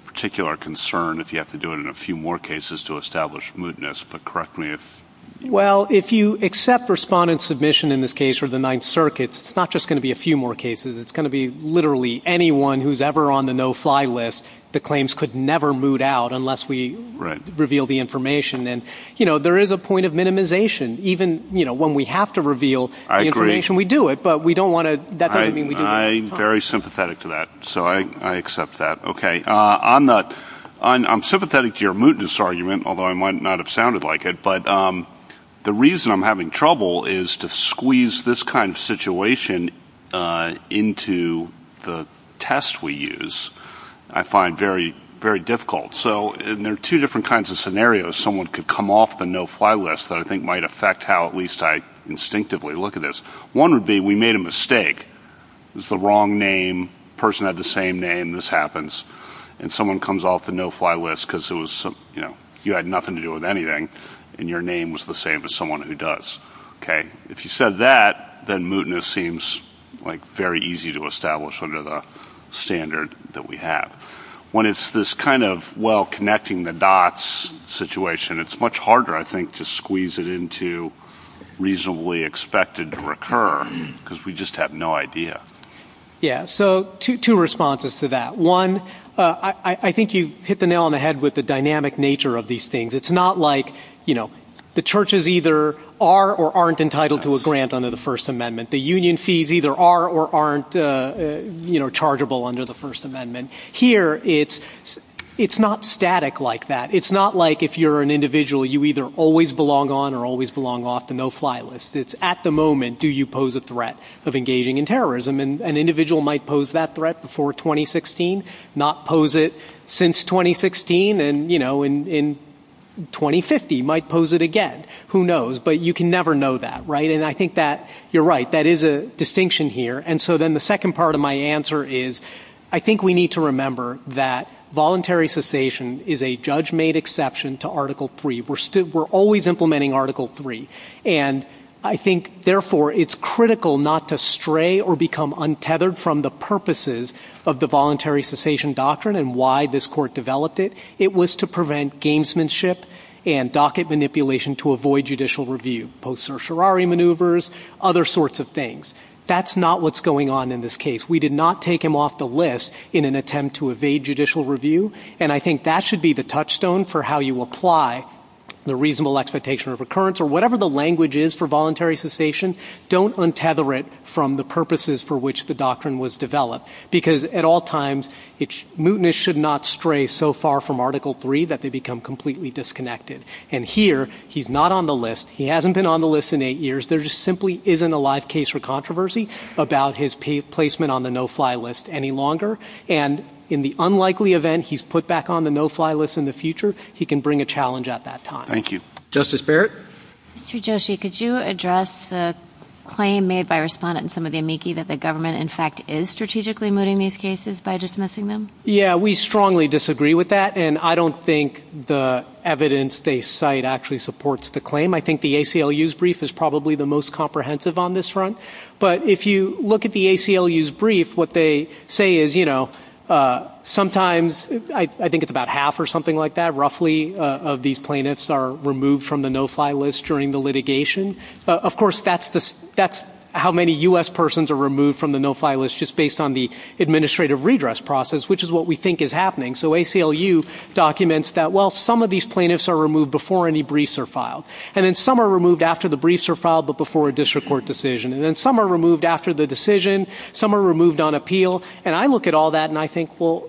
particular concern if you have to do it in a few more cases to establish mootness. But correct me if I'm wrong. Well, if you accept respondent submission in this case for the Ninth Circuit, it's not just going to be a few more cases. It's going to be literally anyone who's ever on the no-fly list. The claims could never moot out unless we reveal the information. And, you know, there is a point of minimization. Even, you know, when we have to reveal the information, we do it. But we don't want to. I'm very sympathetic to that. So I accept that. Okay. I'm not. I'm sympathetic to your mootness argument, although I might not have sounded like it. But the reason I'm having trouble is to squeeze this kind of situation into the test we use. I find very, very difficult. So there are two different kinds of scenarios. Someone could come off the no-fly list that I think might affect how at least I instinctively look at this. One would be we made a mistake. It's the wrong name. Person had the same name. This happens. And someone comes off the no-fly list because it was, you know, you had nothing to do with anything. And your name was the same as someone who does. Okay. If you said that, then mootness seems, like, very easy to establish under the standard that we have. When it's this kind of, well, connecting the dots situation, it's much harder, I think, to squeeze it into reasonably expected to recur because we just have no idea. Yeah. So two responses to that. One, I think you hit the nail on the head with the dynamic nature of these things. It's not like, you know, the churches either are or aren't entitled to a grant under the First Amendment. The union fees either are or aren't, you know, chargeable under the First Amendment. Here, it's not static like that. It's not like if you're an individual, you either always belong on or always belong off the no-fly list. It's at the moment, do you pose a threat of engaging in terrorism? An individual might pose that threat before 2016, not pose it since 2016, and, you know, in 2050, might pose it again. Who knows? But you can never know that, right? And I think that you're right. That is a distinction here. And so then the second part of my answer is I think we need to remember that voluntary cessation is a judge-made exception to Article III. We're always implementing Article III. And I think, therefore, it's critical not to stray or become untethered from the purposes of the voluntary cessation doctrine and why this court developed it. It was to prevent gamesmanship and docket manipulation to avoid judicial review, post-Certiorari maneuvers, other sorts of things. That's not what's going on in this case. We did not take him off the list in an attempt to evade judicial review. And I think that should be the touchstone for how you apply the reasonable expectation of recurrence or whatever the language is for voluntary cessation. Don't untether it from the purposes for which the doctrine was developed because, at all times, mutinous should not stray so far from Article III that they become completely disconnected. And here, he's not on the list. He hasn't been on the list in eight years. There just simply isn't a live case for controversy about his placement on the no-fly list any longer. And in the unlikely event he's put back on the no-fly list in the future, he can bring a challenge at that time. Thank you. Justice Barrett? Mr. Joshi, could you address the claim made by a respondent in some of the amici that the government, in fact, is strategically mooting these cases by dismissing them? Yeah, we strongly disagree with that. And I don't think the evidence they cite actually supports the claim. I think the ACLU's brief is probably the most comprehensive on this front. But if you look at the ACLU's brief, what they say is, you know, sometimes I think it's about half or something like that, roughly, of these plaintiffs are removed from the no-fly list during the litigation. Of course, that's how many U.S. persons are removed from the no-fly list just based on the administrative redress process, which is what we think is happening. So ACLU documents that, well, some of these plaintiffs are removed before any briefs are filed. And then some are removed after the briefs are filed but before a district court decision. And then some are removed after the decision. Some are removed on appeal. And I look at all that and I think, well,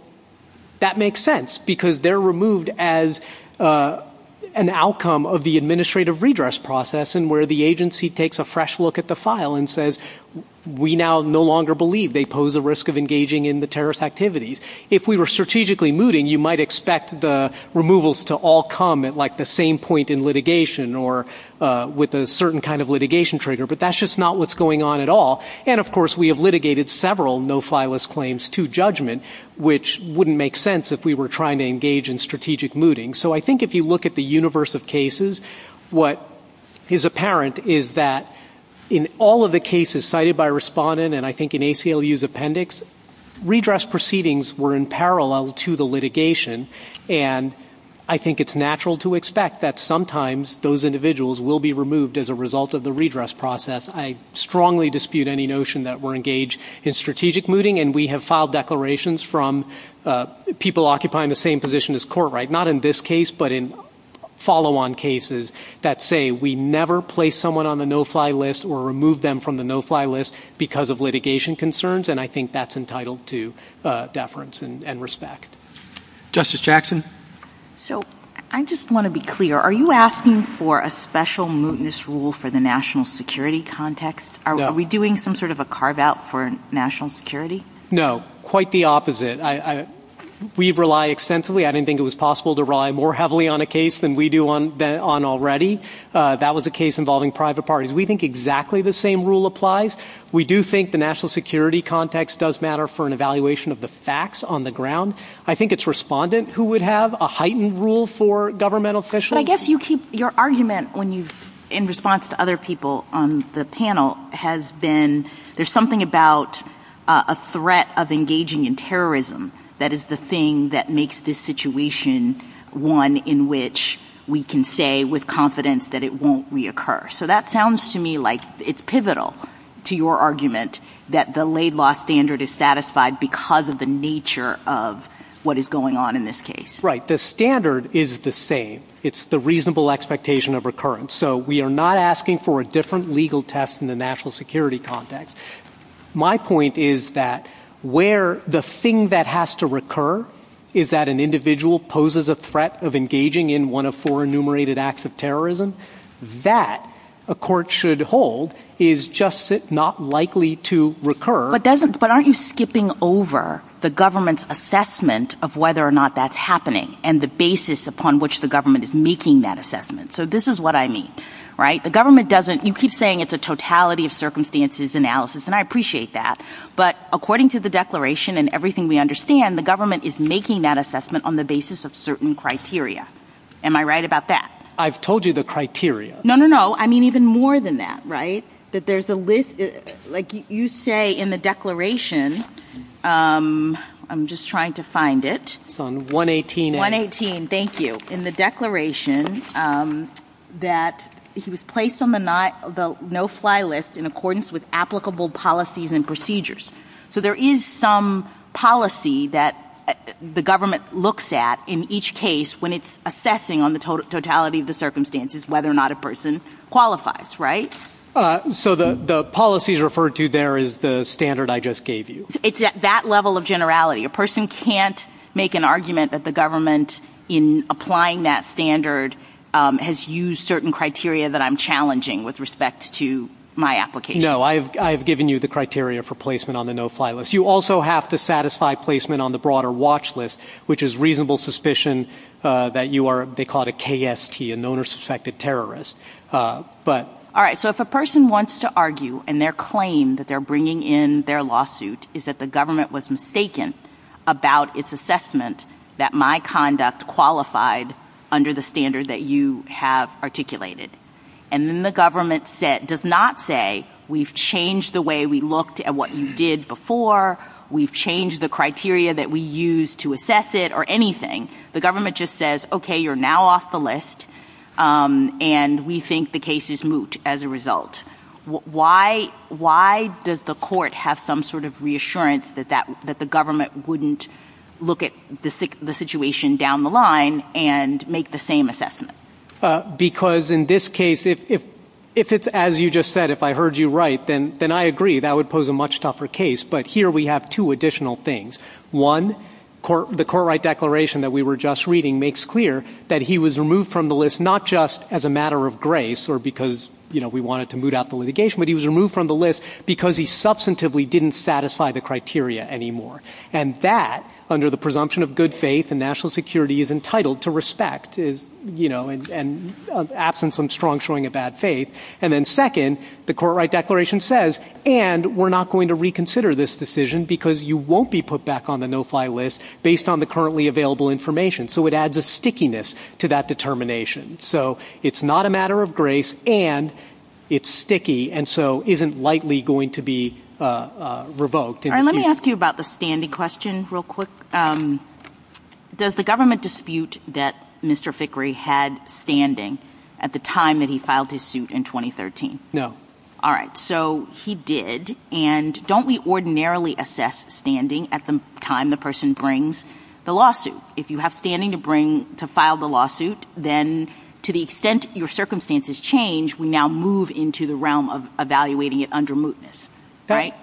that makes sense because they're removed as an outcome of the administrative redress process and where the agency takes a fresh look at the file and says, we now no longer believe they pose a risk of engaging in the terrorist activities. If we were strategically mooting, you might expect the removals to all come at like the same point in litigation or with a certain kind of litigation trigger. But that's just not what's going on at all. And, of course, we have litigated several no-fly list claims to judgment, which wouldn't make sense if we were trying to engage in strategic mooting. So I think if you look at the universe of cases, what is apparent is that in all of the cases cited by respondent and I think in ACLU's appendix, redress proceedings were in parallel to the litigation. And I think it's natural to expect that sometimes those individuals will be removed as a result of the redress process. I strongly dispute any notion that we're engaged in strategic mooting. And we have filed declarations from people occupying the same position as court, right? Not in this case, but in follow-on cases that say we never place someone on the no-fly list or remove them from the no-fly list because of litigation concerns. And I think that's entitled to deference and respect. Justice Jackson? So I just want to be clear. Are you asking for a special mootness rule for the national security context? Are we doing some sort of a carve-out for national security? No, quite the opposite. We rely extensively. I didn't think it was possible to rely more heavily on a case than we do on already. That was a case involving private parties. We think exactly the same rule applies. We do think the national security context does matter for an evaluation of the facts on the ground. I think it's respondent who would have a heightened rule for governmental officials. But I guess your argument in response to other people on the panel has been there's something about a threat of engaging in terrorism that is the thing that makes this situation one in which we can say with confidence that it won't reoccur. So that sounds to me like it's pivotal to your argument that the laid law standard is satisfied because of the nature of what is going on in this case. Right. But the standard is the same. It's the reasonable expectation of recurrence. So we are not asking for a different legal test in the national security context. My point is that where the thing that has to recur is that an individual poses a threat of engaging in one of four enumerated acts of terrorism, that a court should hold is just not likely to recur. But aren't you skipping over the government's assessment of whether or not that's happening and the basis upon which the government is making that assessment. So this is what I mean. Right. The government doesn't. You keep saying it's a totality of circumstances analysis and I appreciate that. But according to the declaration and everything we understand, the government is making that assessment on the basis of certain criteria. Am I right about that? I've told you the criteria. No, no, no. I mean even more than that. Right. So you're saying that there's a list, like you say in the declaration, I'm just trying to find it. It's on 118A. 118, thank you. In the declaration that it was placed on the no-fly list in accordance with applicable policies and procedures. So there is some policy that the government looks at in each case when it's assessing on the totality of the circumstances whether or not a person qualifies, right? So the policies referred to there is the standard I just gave you. It's at that level of generality. A person can't make an argument that the government in applying that standard has used certain criteria that I'm challenging with respect to my application. No, I've given you the criteria for placement on the no-fly list. You also have to satisfy placement on the broader watch list, which is reasonable suspicion that you are, they call it a KST, a known or suspected terrorist. All right, so if a person wants to argue and their claim that they're bringing in their lawsuit is that the government was mistaken about its assessment that my conduct qualified under the standard that you have articulated, and then the government does not say we've changed the way we looked at what you did before, we've changed the criteria that we used to assess it or anything, the government just says, okay, you're now off the list, and we think the case is moot as a result. Why does the court have some sort of reassurance that the government wouldn't look at the situation down the line and make the same assessment? Because in this case, if it's as you just said, if I heard you right, then I agree that would pose a much tougher case. But here we have two additional things. One, the court right declaration that we were just reading makes clear that he was removed from the list not just as a matter of grace or because we wanted to moot out the litigation, but he was removed from the list because he substantively didn't satisfy the criteria anymore. And that, under the presumption of good faith and national security, is entitled to respect and absence of strong showing of bad faith. And then second, the court right declaration says, and we're not going to reconsider this decision because you won't be put back on the no-fly list based on the currently available information. So it adds a stickiness to that determination. So it's not a matter of grace, and it's sticky, and so isn't likely going to be revoked. Let me ask you about the standing question real quick. Does the government dispute that Mr. Fickrey had standing at the time that he filed his suit in 2013? No. All right. So he did. And don't we ordinarily assess standing at the time the person brings the lawsuit? If you have standing to file the lawsuit, then to the extent your circumstances change, we now move into the realm of evaluating it under mootness, right?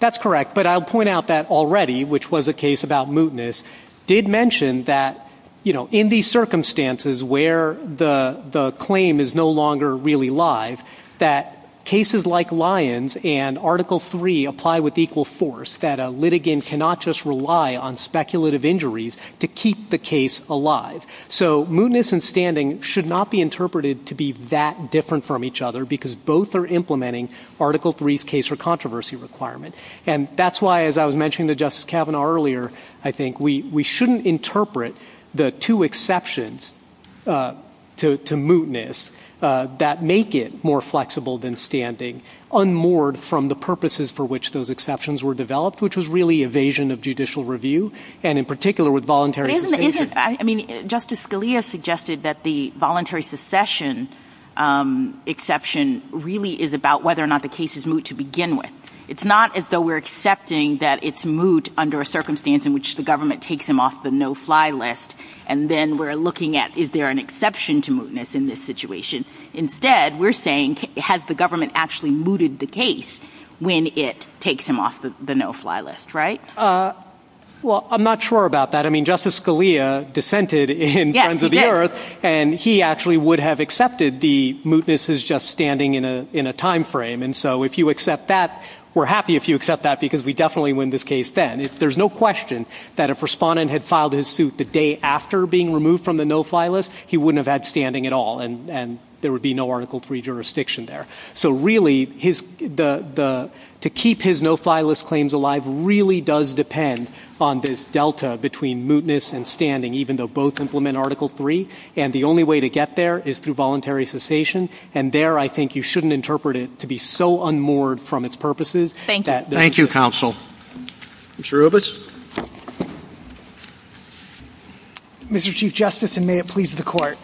That's correct. But I'll point out that already, which was a case about mootness, did mention that in these circumstances where the claim is no longer really live, that cases like Lyons and Article III apply with equal force, that a litigant cannot just rely on speculative injuries to keep the case alive. So mootness and standing should not be interpreted to be that different from each other, because both are implementing Article III's case for controversy requirement. And that's why, as I was mentioning to Justice Kavanaugh earlier, I think we shouldn't interpret the two exceptions to mootness that make it more flexible than standing, unmoored from the purposes for which those exceptions were developed, which was really evasion of judicial review, and in particular with voluntary protection. Justice Scalia suggested that the voluntary secession exception really is about whether or not the case is moot to begin with. It's not as though we're accepting that it's moot under a circumstance in which the government takes him off the no-fly list, and then we're looking at, is there an exception to mootness in this situation? Instead, we're saying, has the government actually mooted the case when it takes him off the no-fly list, right? Well, I'm not sure about that. I mean, Justice Scalia dissented in Friends of the Earth, and he actually would have accepted the mootness as just standing in a time frame. And so if you accept that, we're happy if you accept that, because we definitely win this case then. There's no question that if Respondent had filed his suit the day after being removed from the no-fly list, he wouldn't have had standing at all, and there would be no Article III jurisdiction there. So really, to keep his no-fly list claims alive really does depend on this delta between mootness and standing, even though both implement Article III. And the only way to get there is through voluntary cessation. And there, I think you shouldn't interpret it to be so unmoored from its purposes. Thank you. Thank you, counsel. Mr. Robes? Mr. Chief Justice, and may it please the Court.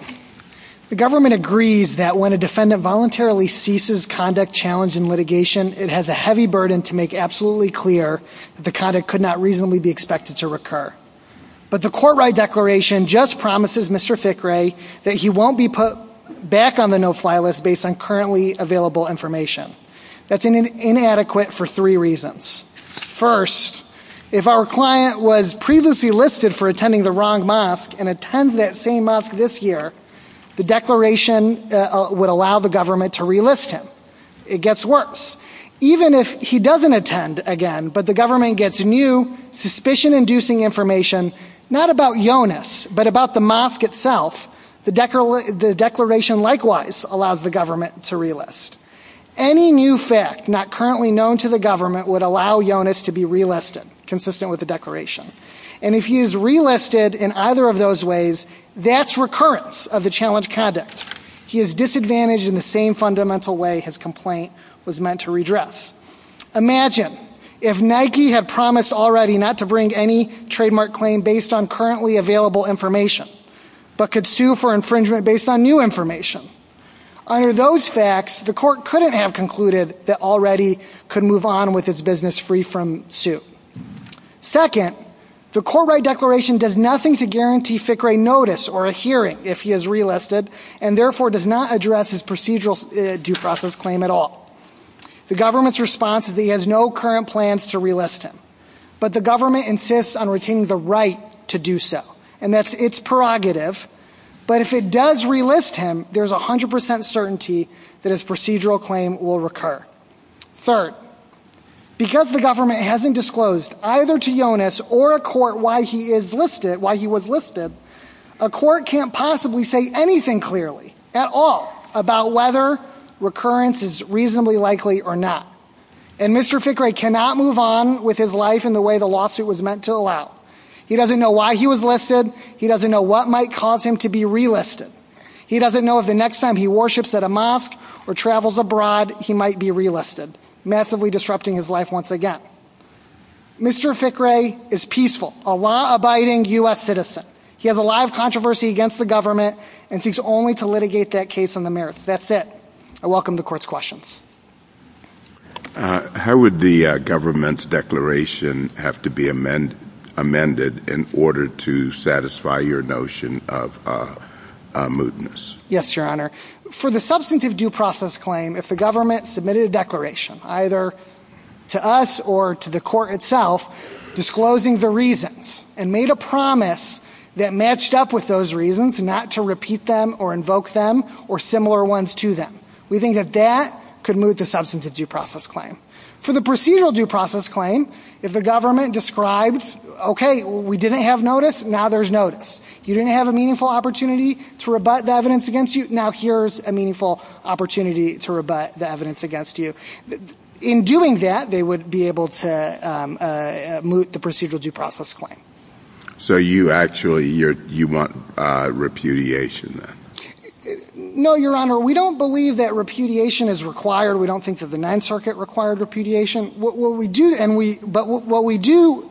The government agrees that when a defendant voluntarily ceases conduct, challenge, and litigation, it has a heavy burden to make absolutely clear that the conduct could not reasonably be expected to recur. But the Court-Ride Declaration just promises Mr. Fickrey that he won't be put back on the no-fly list based on currently available information. That's inadequate for three reasons. First, if our client was previously listed for attending the wrong mosque and attends that same mosque this year, the Declaration would allow the government to relist him. It gets worse. Even if he doesn't attend again, but the government gets new, suspicion-inducing information, not about Jonas, but about the mosque itself, the Declaration likewise allows the government to relist. Any new fact not currently known to the government would allow Jonas to be relisted, consistent with the Declaration. And if he is relisted in either of those ways, that's recurrence of the challenge conduct. He is disadvantaged in the same fundamental way his complaint was meant to redress. Imagine if Nike had promised already not to bring any trademark claim based on currently available information, but could sue for infringement based on new information. Under those facts, the court couldn't have concluded that already could move on with his business free from suit. Second, the Court-Right Declaration does nothing to guarantee Fickrey notice or a hearing if he is relisted, and therefore does not address his procedural due process claim at all. The government's response is he has no current plans to relist him. But the government insists on retaining the right to do so, and that's its prerogative. But if it does relist him, there's 100% certainty that his procedural claim will recur. Third, because the government hasn't disclosed either to Jonas or a court why he is listed, why he was listed, a court can't possibly say anything clearly at all about whether recurrence is reasonably likely or not. And Mr. Fickrey cannot move on with his life in the way the lawsuit was meant to allow. He doesn't know why he was listed. He doesn't know what might cause him to be relisted. He doesn't know if the next time he worships at a mosque or travels abroad, he might be relisted, massively disrupting his life once again. Mr. Fickrey is peaceful, a law-abiding U.S. citizen. He has a lot of controversy against the government and seeks only to litigate that case on the merits. That's it. I welcome the Court's questions. How would the government's declaration have to be amended in order to satisfy your notion of mootness? Yes, Your Honor. For the substantive due process claim, if the government submitted a declaration, either to us or to the court itself, disclosing the reasons, and made a promise that matched up with those reasons not to repeat them or invoke them or similar ones to them, we think that that could moot the substantive due process claim. For the procedural due process claim, if the government describes, okay, we didn't have notice, now there's notice. You didn't have a meaningful opportunity to rebut the evidence against you, now here's a meaningful opportunity to rebut the evidence against you. In doing that, they would be able to moot the procedural due process claim. So you actually want repudiation then? No, Your Honor. We don't believe that repudiation is required. We don't think that the Ninth Circuit required repudiation. But what we do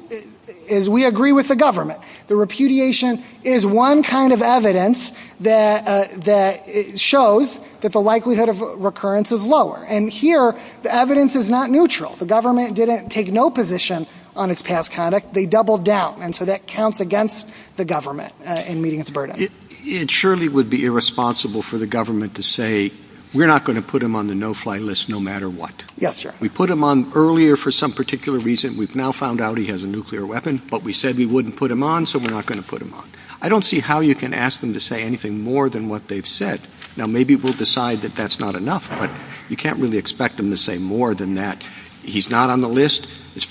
is we agree with the government. The repudiation is one kind of evidence that shows that the likelihood of recurrence is lower. And here, the evidence is not neutral. The government didn't take no position on its past conduct. They doubled down. And so that counts against the government in meeting its burden. It surely would be irresponsible for the government to say, we're not going to put him on the no-fly list no matter what. Yes, Your Honor. We put him on earlier for some particular reason. We've now found out he has a nuclear weapon, but we said we wouldn't put him on, so we're not going to put him on. I don't see how you can ask them to say anything more than what they've said. Now, maybe we'll decide that that's not enough, but you can't really expect them to say more than that. He's not on the list. As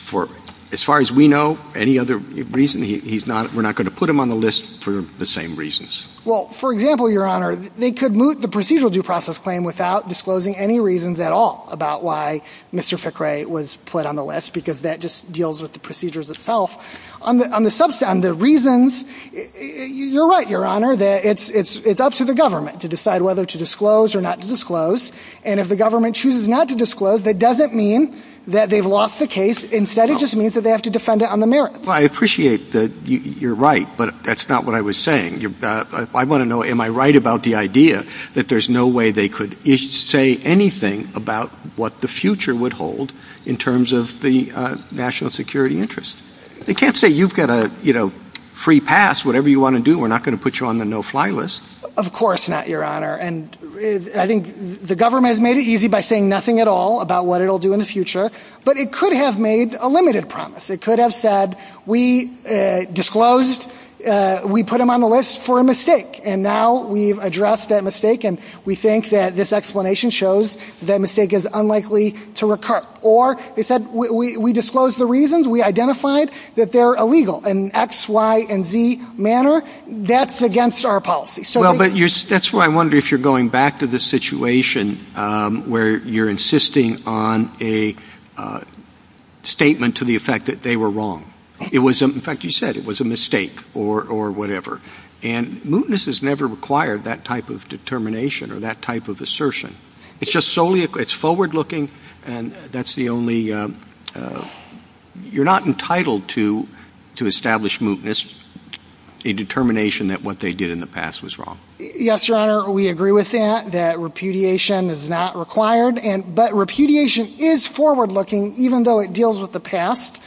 far as we know, any other reason, we're not going to put him on the list for the same reasons. Well, for example, Your Honor, they could moot the procedural due process claim without disclosing any reasons at all about why Mr. Ficre was put on the list because that just deals with the procedures itself. On the reasons, you're right, Your Honor, that it's up to the government to decide whether to disclose or not to disclose. And if the government chooses not to disclose, that doesn't mean that they've lost the case. Instead, it just means that they have to defend it on the merits. Well, I appreciate that you're right, but that's not what I was saying. I want to know, am I right about the idea that there's no way they could say anything about what the future would hold in terms of the national security interest? I can't say you've got a free pass. Whatever you want to do, we're not going to put you on the no-fly list. Of course not, Your Honor. I think the government has made it easy by saying nothing at all about what it will do in the future, but it could have made a limited promise. It could have said, we disclosed, we put him on the list for a mistake, and now we've addressed that mistake, and we think that this explanation shows that mistake is unlikely to recur. Or they said, we disclosed the reasons, we identified that they're illegal, in an X, Y, and Z manner. That's against our policy. Well, but that's why I wonder if you're going back to the situation where you're insisting on a statement to the effect that they were wrong. In fact, you said it was a mistake or whatever. And mootness has never required that type of determination or that type of assertion. It's forward-looking, and that's the only- you're not entitled to establish mootness, a determination that what they did in the past was wrong. Yes, Your Honor, we agree with that, that repudiation is not required. But repudiation is forward-looking, even though it deals with the past,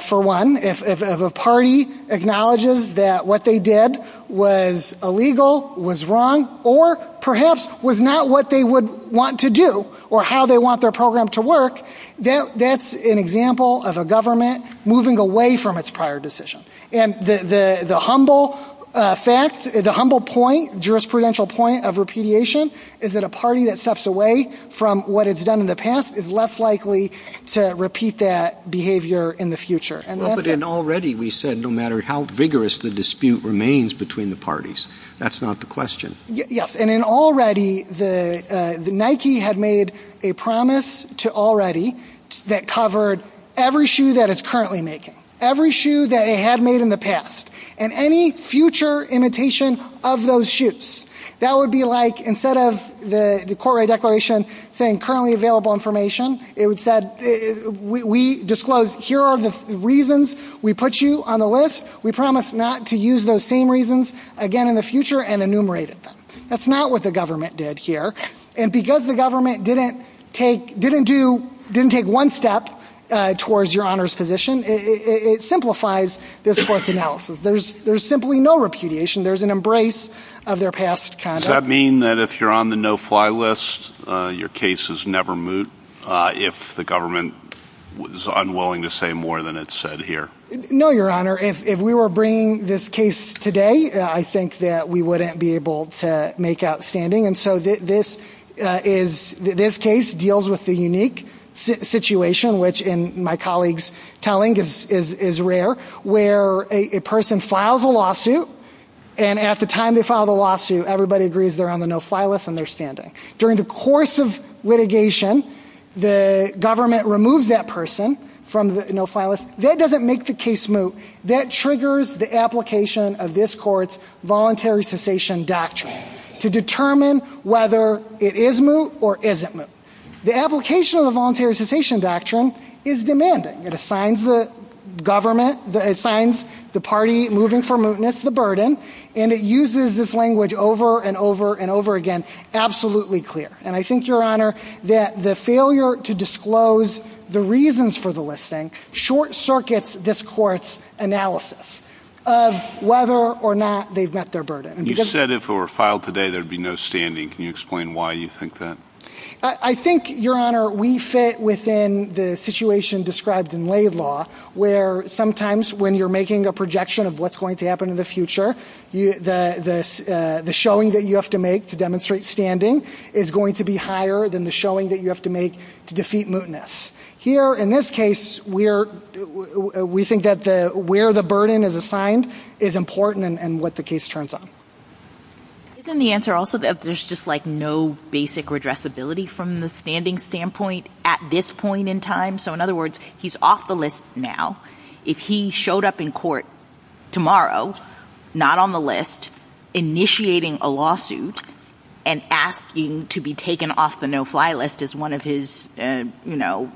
for one. If a party acknowledges that what they did was illegal, was wrong, or perhaps was not what they would want to do or how they want their program to work, that's an example of a government moving away from its prior decision. And the humble fact, the humble point, jurisprudential point of repudiation is that a party that steps away from what it's done in the past is less likely to repeat that behavior in the future. Well, but then already we said no matter how vigorous the dispute remains between the parties. That's not the question. Yes, and in already, Nike had made a promise to already that covered every shoe that it's currently making, every shoe that it had made in the past, and any future imitation of those shoes. That would be like, instead of the court-right declaration saying currently available information, it would say, we disclose here are the reasons we put you on the list. We promised not to use those same reasons again in the future and enumerated them. That's not what the government did here. And because the government didn't take one step towards your Honor's position, it simplifies this court's analysis. There's simply no repudiation. There's an embrace of their past conduct. Does that mean that if you're on the no-fly list, your case is never moot if the government was unwilling to say more than it said here? No, Your Honor. If we were bringing this case today, I think that we wouldn't be able to make outstanding. And so this case deals with the unique situation, which in my colleague's telling is rare, where a person files a lawsuit, and at the time they file the lawsuit, everybody agrees they're on the no-fly list and they're standing. During the course of litigation, the government removes that person from the no-fly list. That doesn't make the case moot. That triggers the application of this court's voluntary cessation doctrine to determine whether it is moot or isn't moot. The application of the voluntary cessation doctrine is demanding. It assigns the government, it assigns the party moving for mootness the burden, and it uses this language over and over and over again absolutely clear. And I think, Your Honor, that the failure to disclose the reasons for the listing short-circuits this court's analysis of whether or not they've met their burden. You said if it were filed today there would be no standing. Can you explain why you think that? I think, Your Honor, we fit within the situation described in lay law, where sometimes when you're making a projection of what's going to happen in the future, the showing that you have to make to demonstrate standing is going to be higher than the showing that you have to make to defeat mootness. Here, in this case, we think that where the burden is assigned is important and what the case turns on. Isn't the answer also that there's just, like, no basic redressability from the standing standpoint at this point in time? So, in other words, he's off the list now. If he showed up in court tomorrow, not on the list, initiating a lawsuit and asking to be taken off the no-fly list as one of his, you know,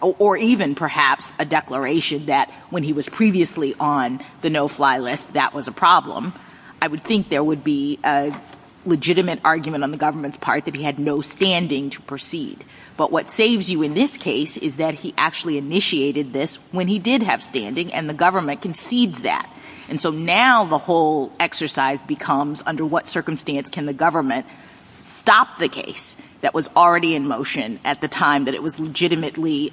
or even perhaps a declaration that when he was previously on the no-fly list that was a problem, I would think there would be a legitimate argument on the government's part that he had no standing to proceed. But what saves you in this case is that he actually initiated this when he did have standing and the government concedes that. And so now the whole exercise becomes under what circumstance can the government stop the case that was already in motion at the time that it was legitimately, you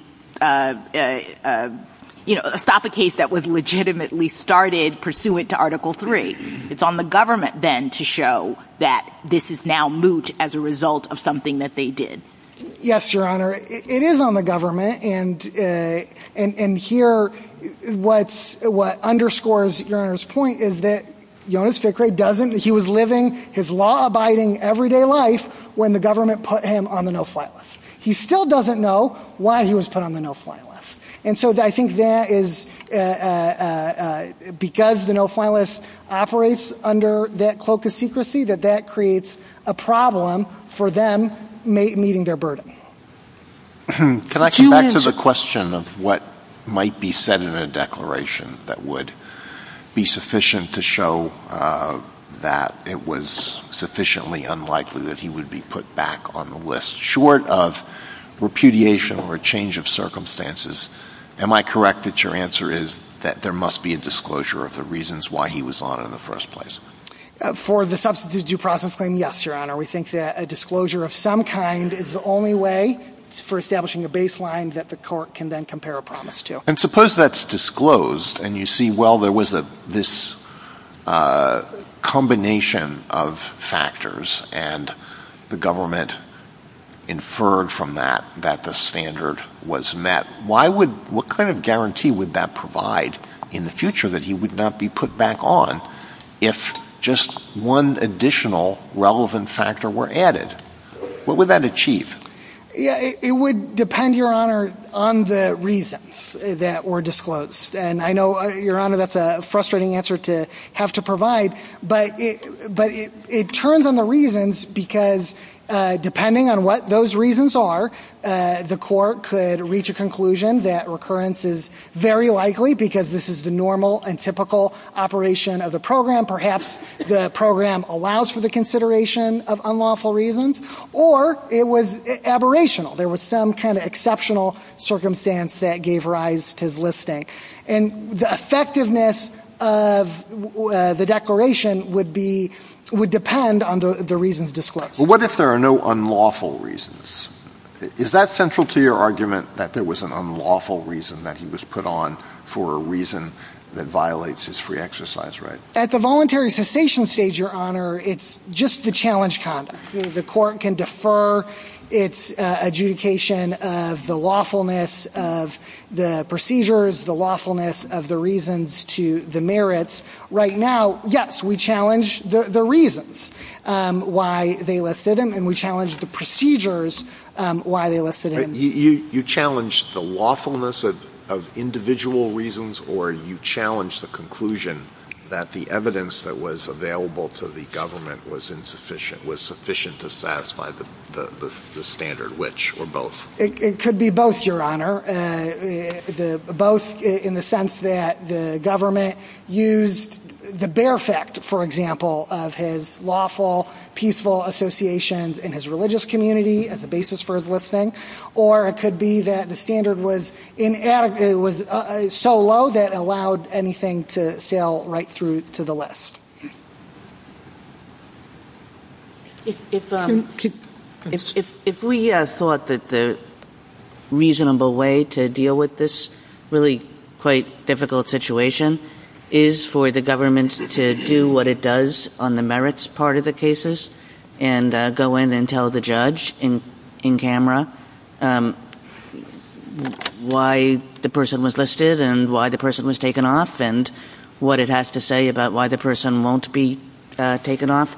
know, stop a case that was legitimately started pursuant to Article III? It's on the government then to show that this is now moot as a result of something that they did. Yes, Your Honor. It is on the government. And here what underscores Your Honor's point is that Jonas Fickrey doesn't, he was living his law-abiding everyday life when the government put him on the no-fly list. He still doesn't know why he was put on the no-fly list. And so I think that is because the no-fly list operates under that cloak of secrecy that that creates a problem for them meeting their burden. Can I come back to the question of what might be said in a declaration that would be sufficient to show that it was sufficiently unlikely that he would be put back on the list? Short of repudiation or a change of circumstances, am I correct that your answer is that there must be a disclosure of the reasons why he was on in the first place? For the Substance Abuse Due Process Claim, yes, Your Honor. We think that a disclosure of some kind is the only way for establishing a baseline that the court can then compare a promise to. And suppose that's disclosed and you see, well, there was this combination of factors and the government inferred from that that the standard was met. What kind of guarantee would that provide in the future that he would not be put back on if just one additional relevant factor were added? What would that achieve? It would depend, Your Honor, on the reasons that were disclosed. And I know, Your Honor, that's a frustrating answer to have to provide, but it turns on the reasons because depending on what those reasons are, the court could reach a conclusion that recurrence is very likely because this is the normal and typical operation of the program. Perhaps the program allows for the consideration of unlawful reasons, or it was aberrational. There was some kind of exceptional circumstance that gave rise to his listing. And the effectiveness of the declaration would depend on the reasons disclosed. But what if there are no unlawful reasons? Is that central to your argument that there was an unlawful reason that he was put on for a reason that violates his free exercise right? At the voluntary cessation stage, Your Honor, it's just the challenge conduct. The court can defer its adjudication of the lawfulness of the procedures, the lawfulness of the reasons to the merits. Right now, yes, we challenge the reasons why they listed him, and we challenge the procedures why they listed him. You challenge the lawfulness of individual reasons, or you challenge the conclusion that the evidence that was available to the government was sufficient to satisfy the standard, which, or both? It could be both, Your Honor. Both in the sense that the government used the bare fact, for example, of his lawful, peaceful association in his religious community as a basis for his listing, or it could be that the standard was so low that it allowed anything to sail right through to the list. If we thought that the reasonable way to deal with this really quite difficult situation is for the government to do what it does on the merits part of the cases and go in and tell the judge in camera why the person was listed and why the person was taken off and what it has to say about why the person won't be taken off,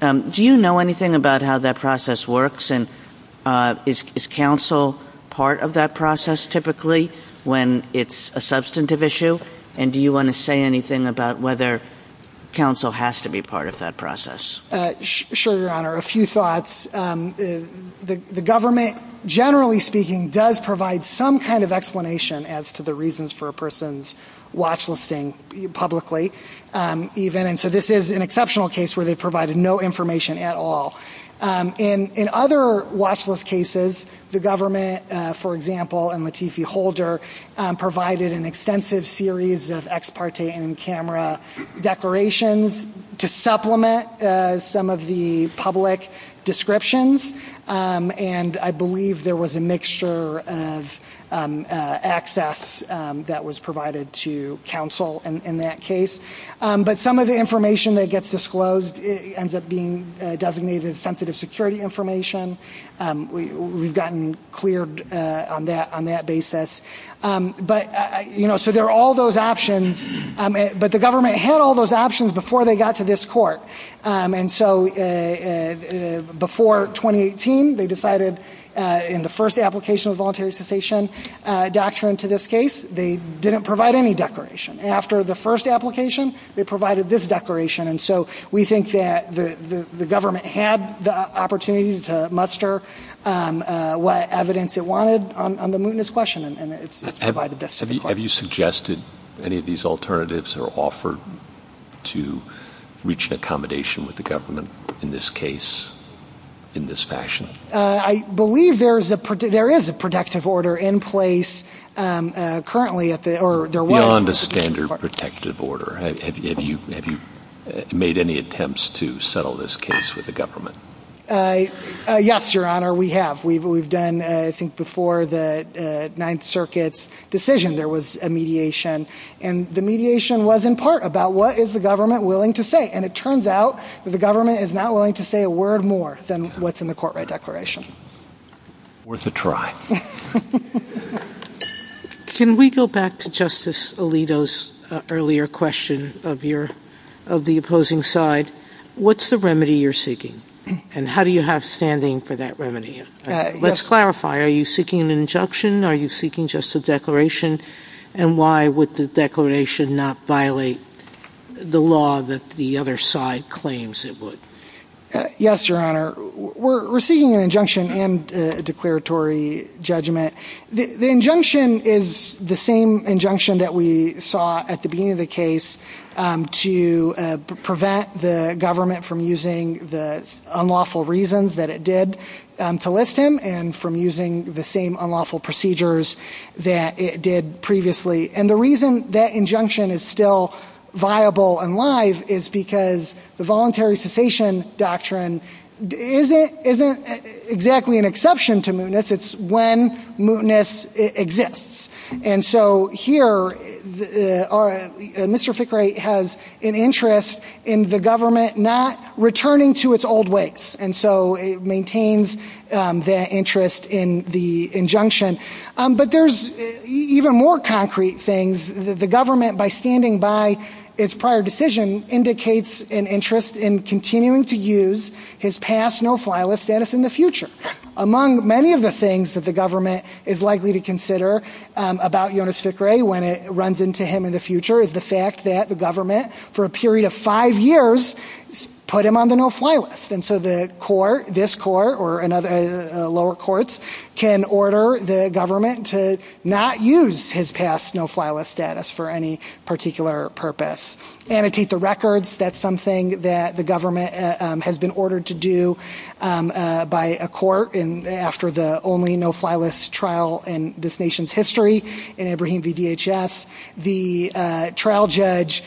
do you know anything about how that process works, and is counsel part of that process typically when it's a substantive issue, and do you want to say anything about whether counsel has to be part of that process? Sure, Your Honor. A few thoughts. The government, generally speaking, does provide some kind of explanation as to the reasons for a person's watch listing publicly. So this is an exceptional case where they provided no information at all. In other watch list cases, the government, for example, and Latifi Holder, provided an extensive series of ex parte in camera declarations to supplement some of the public descriptions, and I believe there was a mixture of access that was provided to counsel in that case. But some of the information that gets disclosed ends up being designated as sensitive security information. We've gotten cleared on that basis. So there are all those options, but the government had all those options before they got to this court. And so before 2018, they decided in the first application of voluntary cessation doctrine to this case, they didn't provide any declaration. After the first application, they provided this declaration. And so we think that the government had the opportunity to muster what evidence it wanted on the mootness question. Have you suggested any of these alternatives are offered to reach an accommodation with the government in this case, in this fashion? I believe there is a protective order in place currently. Beyond a standard protective order. Have you made any attempts to settle this case with the government? Yes, Your Honor, we have. We've done, I think, before the Ninth Circuit's decision, there was a mediation. And the mediation was in part about what is the government willing to say. And it turns out that the government is not willing to say a word more than what's in the court-read declaration. Worth a try. Can we go back to Justice Alito's earlier question of the opposing side? What's the remedy you're seeking? And how do you have standing for that remedy? Let's clarify. Are you seeking an injunction? Are you seeking just a declaration? And why would the declaration not violate the law that the other side claims it would? Yes, Your Honor, we're seeking an injunction and a declaratory judgment. The injunction is the same injunction that we saw at the beginning of the case to prevent the government from using the unlawful reasons that it did to list him and from using the same unlawful procedures that it did previously. And the reason that injunction is still viable and live is because the voluntary cessation doctrine isn't exactly an exception to mootness. It's when mootness exists. And so here, Mr. Fickrey has an interest in the government not returning to its old ways. And so it maintains that interest in the injunction. But there's even more concrete things. The government, by standing by its prior decision, indicates an interest in continuing to use his past no-file status in the future. Among many of the things that the government is likely to consider about Jonas Fickrey when it runs into him in the future is the fact that the government, for a period of five years, put him on the no-file list. And so the court, this court or lower courts, can order the government to not use his past no-file status for any particular purpose. Annotate the records. That's something that the government has been ordered to do by a court. And after the only no-file list trial in this nation's history in Ibrahim v. DHS, the trial judge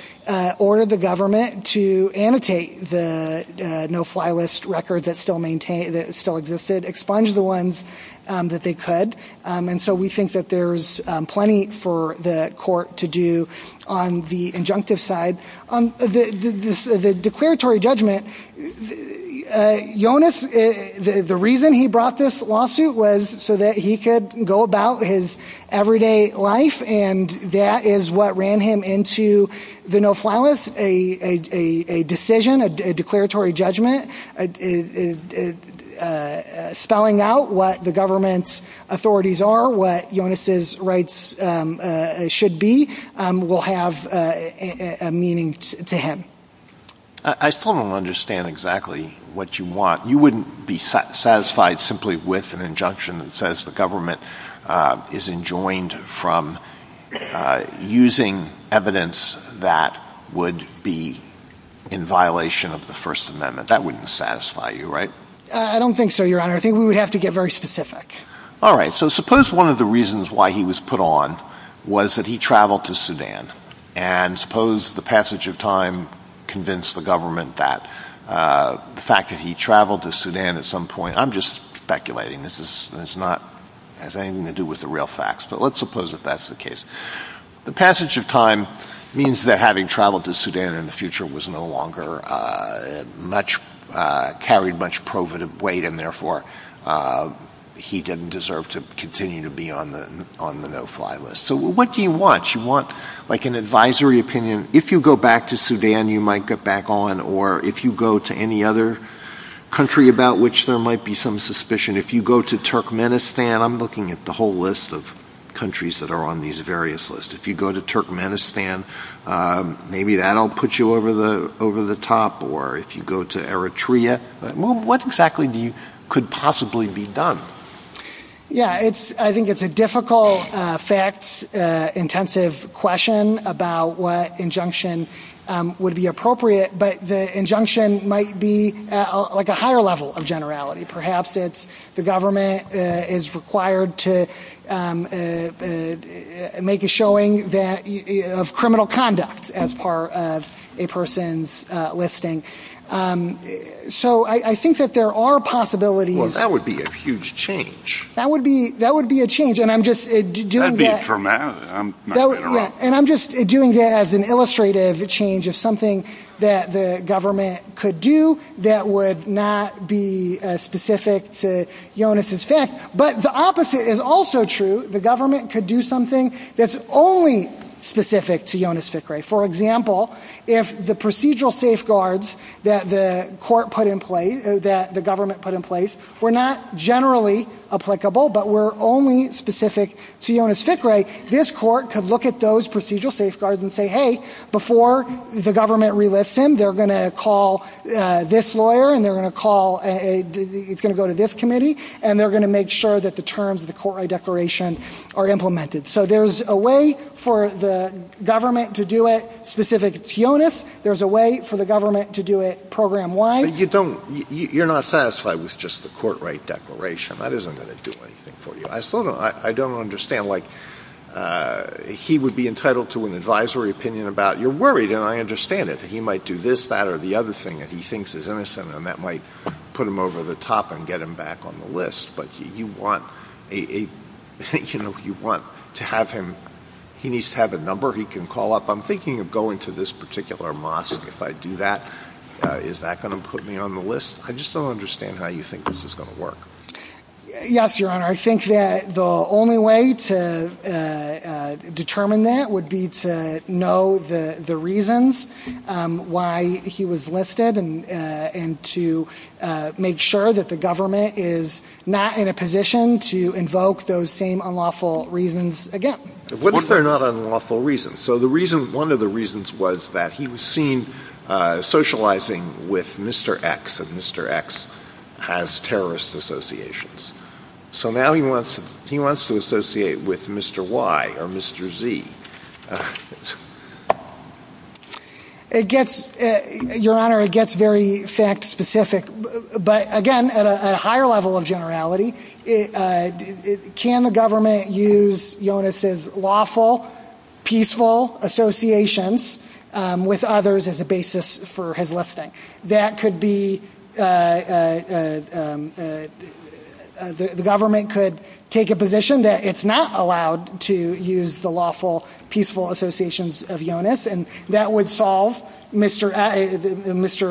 ordered the government to annotate the no-file list record that still existed, expunge the ones that they could. And so we think that there's plenty for the court to do on the injunctive side. The declaratory judgment, Jonas, the reason he brought this lawsuit was so that he could go about his everyday life. And that is what ran him into the no-file list, a decision, a declaratory judgment, spelling out what the government's authorities are, what Jonas's rights should be, will have a meaning to him. I still don't understand exactly what you want. You wouldn't be satisfied simply with an injunction that says the government is enjoined from using evidence that would be in violation of the First Amendment. That wouldn't satisfy you, right? I don't think so, Your Honor. I think we would have to get very specific. All right. So suppose one of the reasons why he was put on was that he traveled to Sudan. And suppose the passage of time convinced the government that the fact that he traveled to Sudan at some point – I'm just speculating. This has nothing to do with the real facts. But let's suppose that that's the case. The passage of time means that having traveled to Sudan in the future carried much weight, and therefore he didn't deserve to continue to be on the no-file list. So what do you want? You want an advisory opinion. If you go back to Sudan, you might get back on. Or if you go to any other country about which there might be some suspicion, if you go to Turkmenistan – I'm looking at the whole list of countries that are on these various lists. If you go to Turkmenistan, maybe that will put you over the top. Or if you go to Eritrea, what exactly could possibly be done? Yeah, I think it's a difficult, fact-intensive question about what injunction would be appropriate. But the injunction might be like a higher level of generality. Perhaps the government is required to make a showing of criminal conduct as part of a person's listing. So I think that there are possibilities. Well, that would be a huge change. That would be a change. That would be a dramatic – I'm not going to run. This court could look at those procedural safeguards and say, hey, before the government relists them, they're going to call this lawyer and they're going to call – it's going to go to this committee, and they're going to make sure that the terms of the court-right declaration are implemented. So there's a way for the government to do it specific to TIONIS. There's a way for the government to do it program-wide. But you don't – you're not satisfied with just the court-right declaration. That isn't going to do anything for you. I still don't – I don't understand. Like, he would be entitled to an advisory opinion about – you're worried, and I understand it. He might do this, that, or the other thing, and he thinks it's innocent, and that might put him over the top and get him back on the list. But you want a – you know, you want to have him – he needs to have a number he can call up. I'm thinking of going to this particular mosque. If I do that, is that going to put me on the list? I just don't understand how you think this is going to work. Yes, Your Honor. I think that the only way to determine that would be to know the reasons why he was listed and to make sure that the government is not in a position to invoke those same unlawful reasons again. What if they're not unlawful reasons? So the reason – one of the reasons was that he was seen socializing with Mr. X, and Mr. X has terrorist associations. So now he wants to associate with Mr. Y or Mr. Z. It gets – Your Honor, it gets very fact-specific, but again, at a higher level of generality, can the government use Jonas' lawful, peaceful associations with others as a basis for his listing? That could be – the government could take a position that it's not allowed to use the lawful, peaceful associations of Jonas, and that would solve Mr.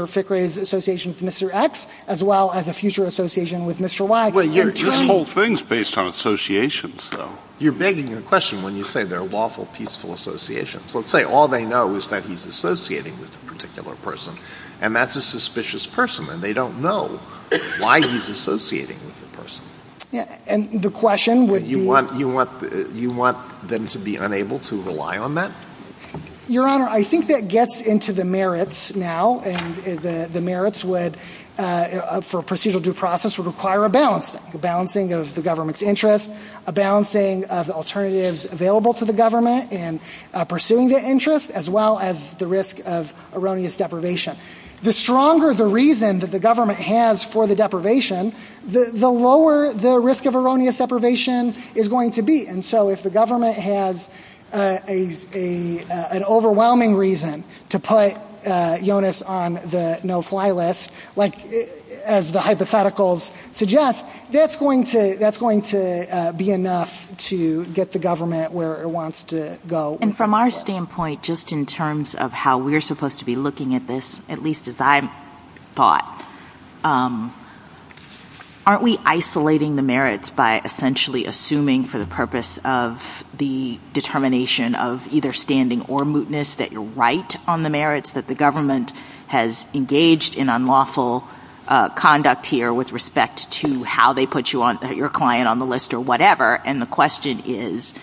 Fickrey's association with Mr. X as well as a future association with Mr. Y. This whole thing is based on associations, though. You're begging a question when you say they're lawful, peaceful associations. Let's say all they know is that he's associating with a particular person, and that's a suspicious person, and they don't know why he's associating with the person. And the question would be – You want them to be unable to rely on that? Your Honor, I think that gets into the merits now, and the merits would, for a procedural due process, would require a balancing, a balancing of the government's interest, a balancing of the alternatives available to the government in pursuing the interest as well as the risk of erroneous deprivation. The stronger the reason that the government has for the deprivation, the lower the risk of erroneous deprivation is going to be. And so if the government has an overwhelming reason to put Jonas on the no-fly list, as the hypotheticals suggest, that's going to be enough to get the government where it wants to go. And from our standpoint, just in terms of how we're supposed to be looking at this, at least as I thought, aren't we isolating the merits by essentially assuming for the purpose of the determination of either standing or mootness that you're right on the merits, that the government has engaged in unlawful conduct here with respect to how they put your client on the list or whatever, and the question is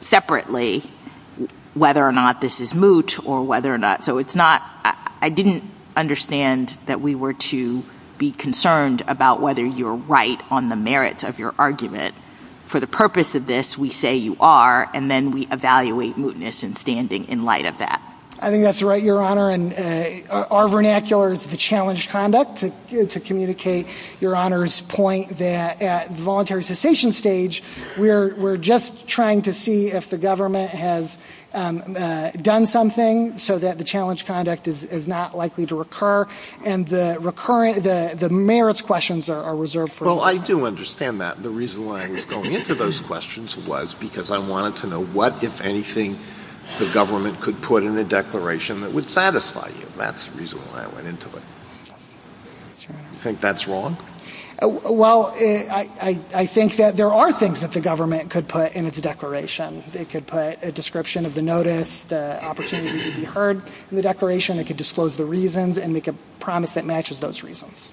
separately whether or not this is moot or whether or not – so it's not – I didn't understand that we were to be concerned about whether you're right on the merits of your argument. For the purpose of this, we say you are, and then we evaluate mootness and standing in light of that. I think that's right, Your Honor, and our vernacular is to challenge conduct, to communicate Your Honor's point that at the voluntary cessation stage, we're just trying to see if the government has done something so that the challenge conduct is not likely to recur, and the merits questions are reserved for later. Well, I do understand that. The reason why I was going into those questions was because I wanted to know what, if anything, the government could put in a declaration that would satisfy you. That's the reason why I went into it. Do you think that's wrong? Well, I think that there are things that the government could put in its declaration. It could put a description of the notice, the opportunity to be heard in the declaration. It could disclose the reasons and make a promise that matches those reasons.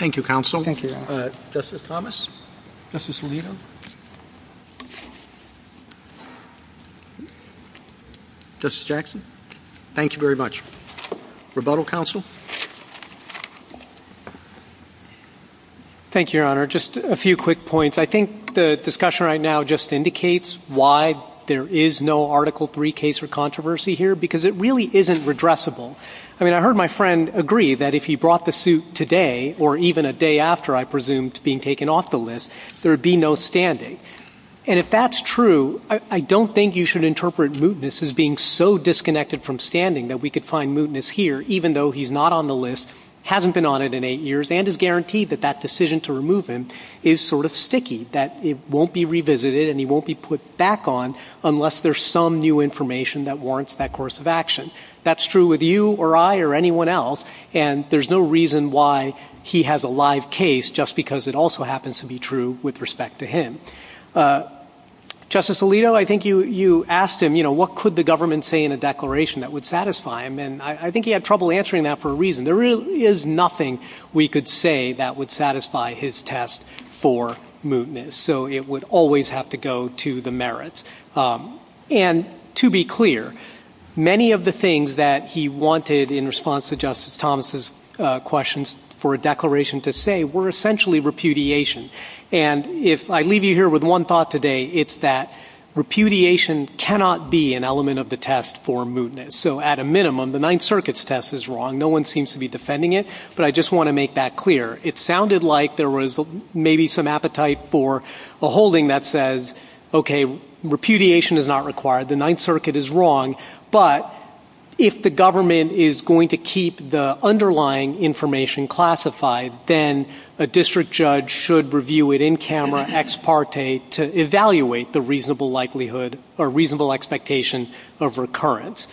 Thank you, counsel. Thank you, Your Honor. Justice Thomas? Justice Alito? Justice Jackson? Thank you very much. Rebuttal, counsel? Thank you, Your Honor. Just a few quick points. I think the discussion right now just indicates why there is no Article III case or controversy here, because it really isn't redressable. I mean, I heard my friend agree that if he brought the suit today, or even a day after, I presume, being taken off the list, there would be no standing. And if that's true, I don't think you should interpret mootness as being so disconnected from standing that we could find mootness here, even though he's not on the list, hasn't been on it in eight years, and is guaranteed that that decision to remove him is sort of sticky, that it won't be revisited and he won't be put back on unless there's some new information that warrants that course of action. That's true with you or I or anyone else, and there's no reason why he has a live case, just because it also happens to be true with respect to him. Justice Alito, I think you asked him, you know, I think he had trouble answering that for a reason. There really is nothing we could say that would satisfy his test for mootness, so it would always have to go to the merits. And to be clear, many of the things that he wanted in response to Justice Thomas' questions for a declaration to say were essentially repudiation. And if I leave you here with one thought today, it's that repudiation cannot be an element of the test for mootness. So at a minimum, the Ninth Circuit's test is wrong. No one seems to be defending it, but I just want to make that clear. It sounded like there was maybe some appetite for a holding that says, okay, repudiation is not required, the Ninth Circuit is wrong, but if the government is going to keep the underlying information classified, then a district judge should review it in camera, ex parte, to evaluate the reasonable likelihood or reasonable expectation of recurrence.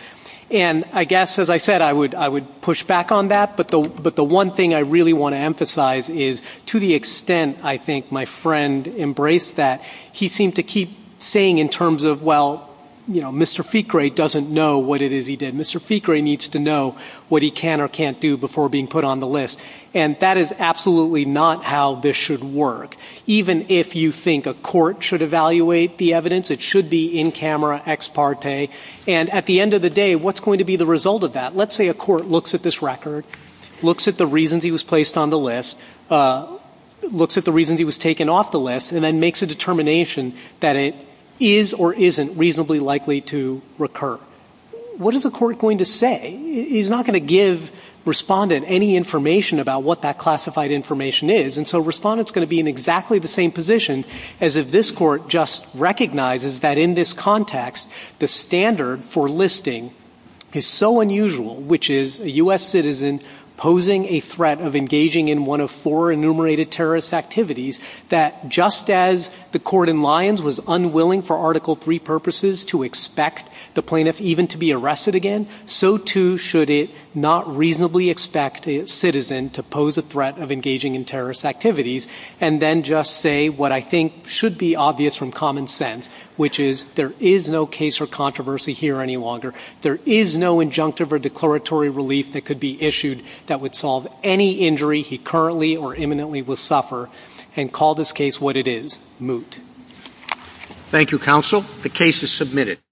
And I guess, as I said, I would push back on that, but the one thing I really want to emphasize is to the extent I think my friend embraced that, he seemed to keep saying in terms of, well, you know, Mr. Ficre doesn't know what it is he did. Mr. Ficre needs to know what he can or can't do before being put on the list. And that is absolutely not how this should work. Even if you think a court should evaluate the evidence, it should be in camera, ex parte. And at the end of the day, what's going to be the result of that? Let's say a court looks at this record, looks at the reasons he was placed on the list, looks at the reasons he was taken off the list, and then makes a determination that it is or isn't reasonably likely to recur. What is the court going to say? He's not going to give Respondent any information about what that classified information is, and so Respondent's going to be in exactly the same position as if this court just recognizes that in this context the standard for listing is so unusual, which is a U.S. citizen posing a threat of engaging in one of four enumerated terrorist activities, that just as the court in Lyons was unwilling for Article III purposes to expect the plaintiff even to be arrested again, so too should it not reasonably expect a citizen to pose a threat of engaging in terrorist activities, and then just say what I think should be obvious from common sense, which is there is no case for controversy here any longer. There is no injunctive or declaratory relief that could be issued that would solve any injury he currently or imminently will suffer, and call this case what it is, moot. Thank you, Counsel. The case is submitted.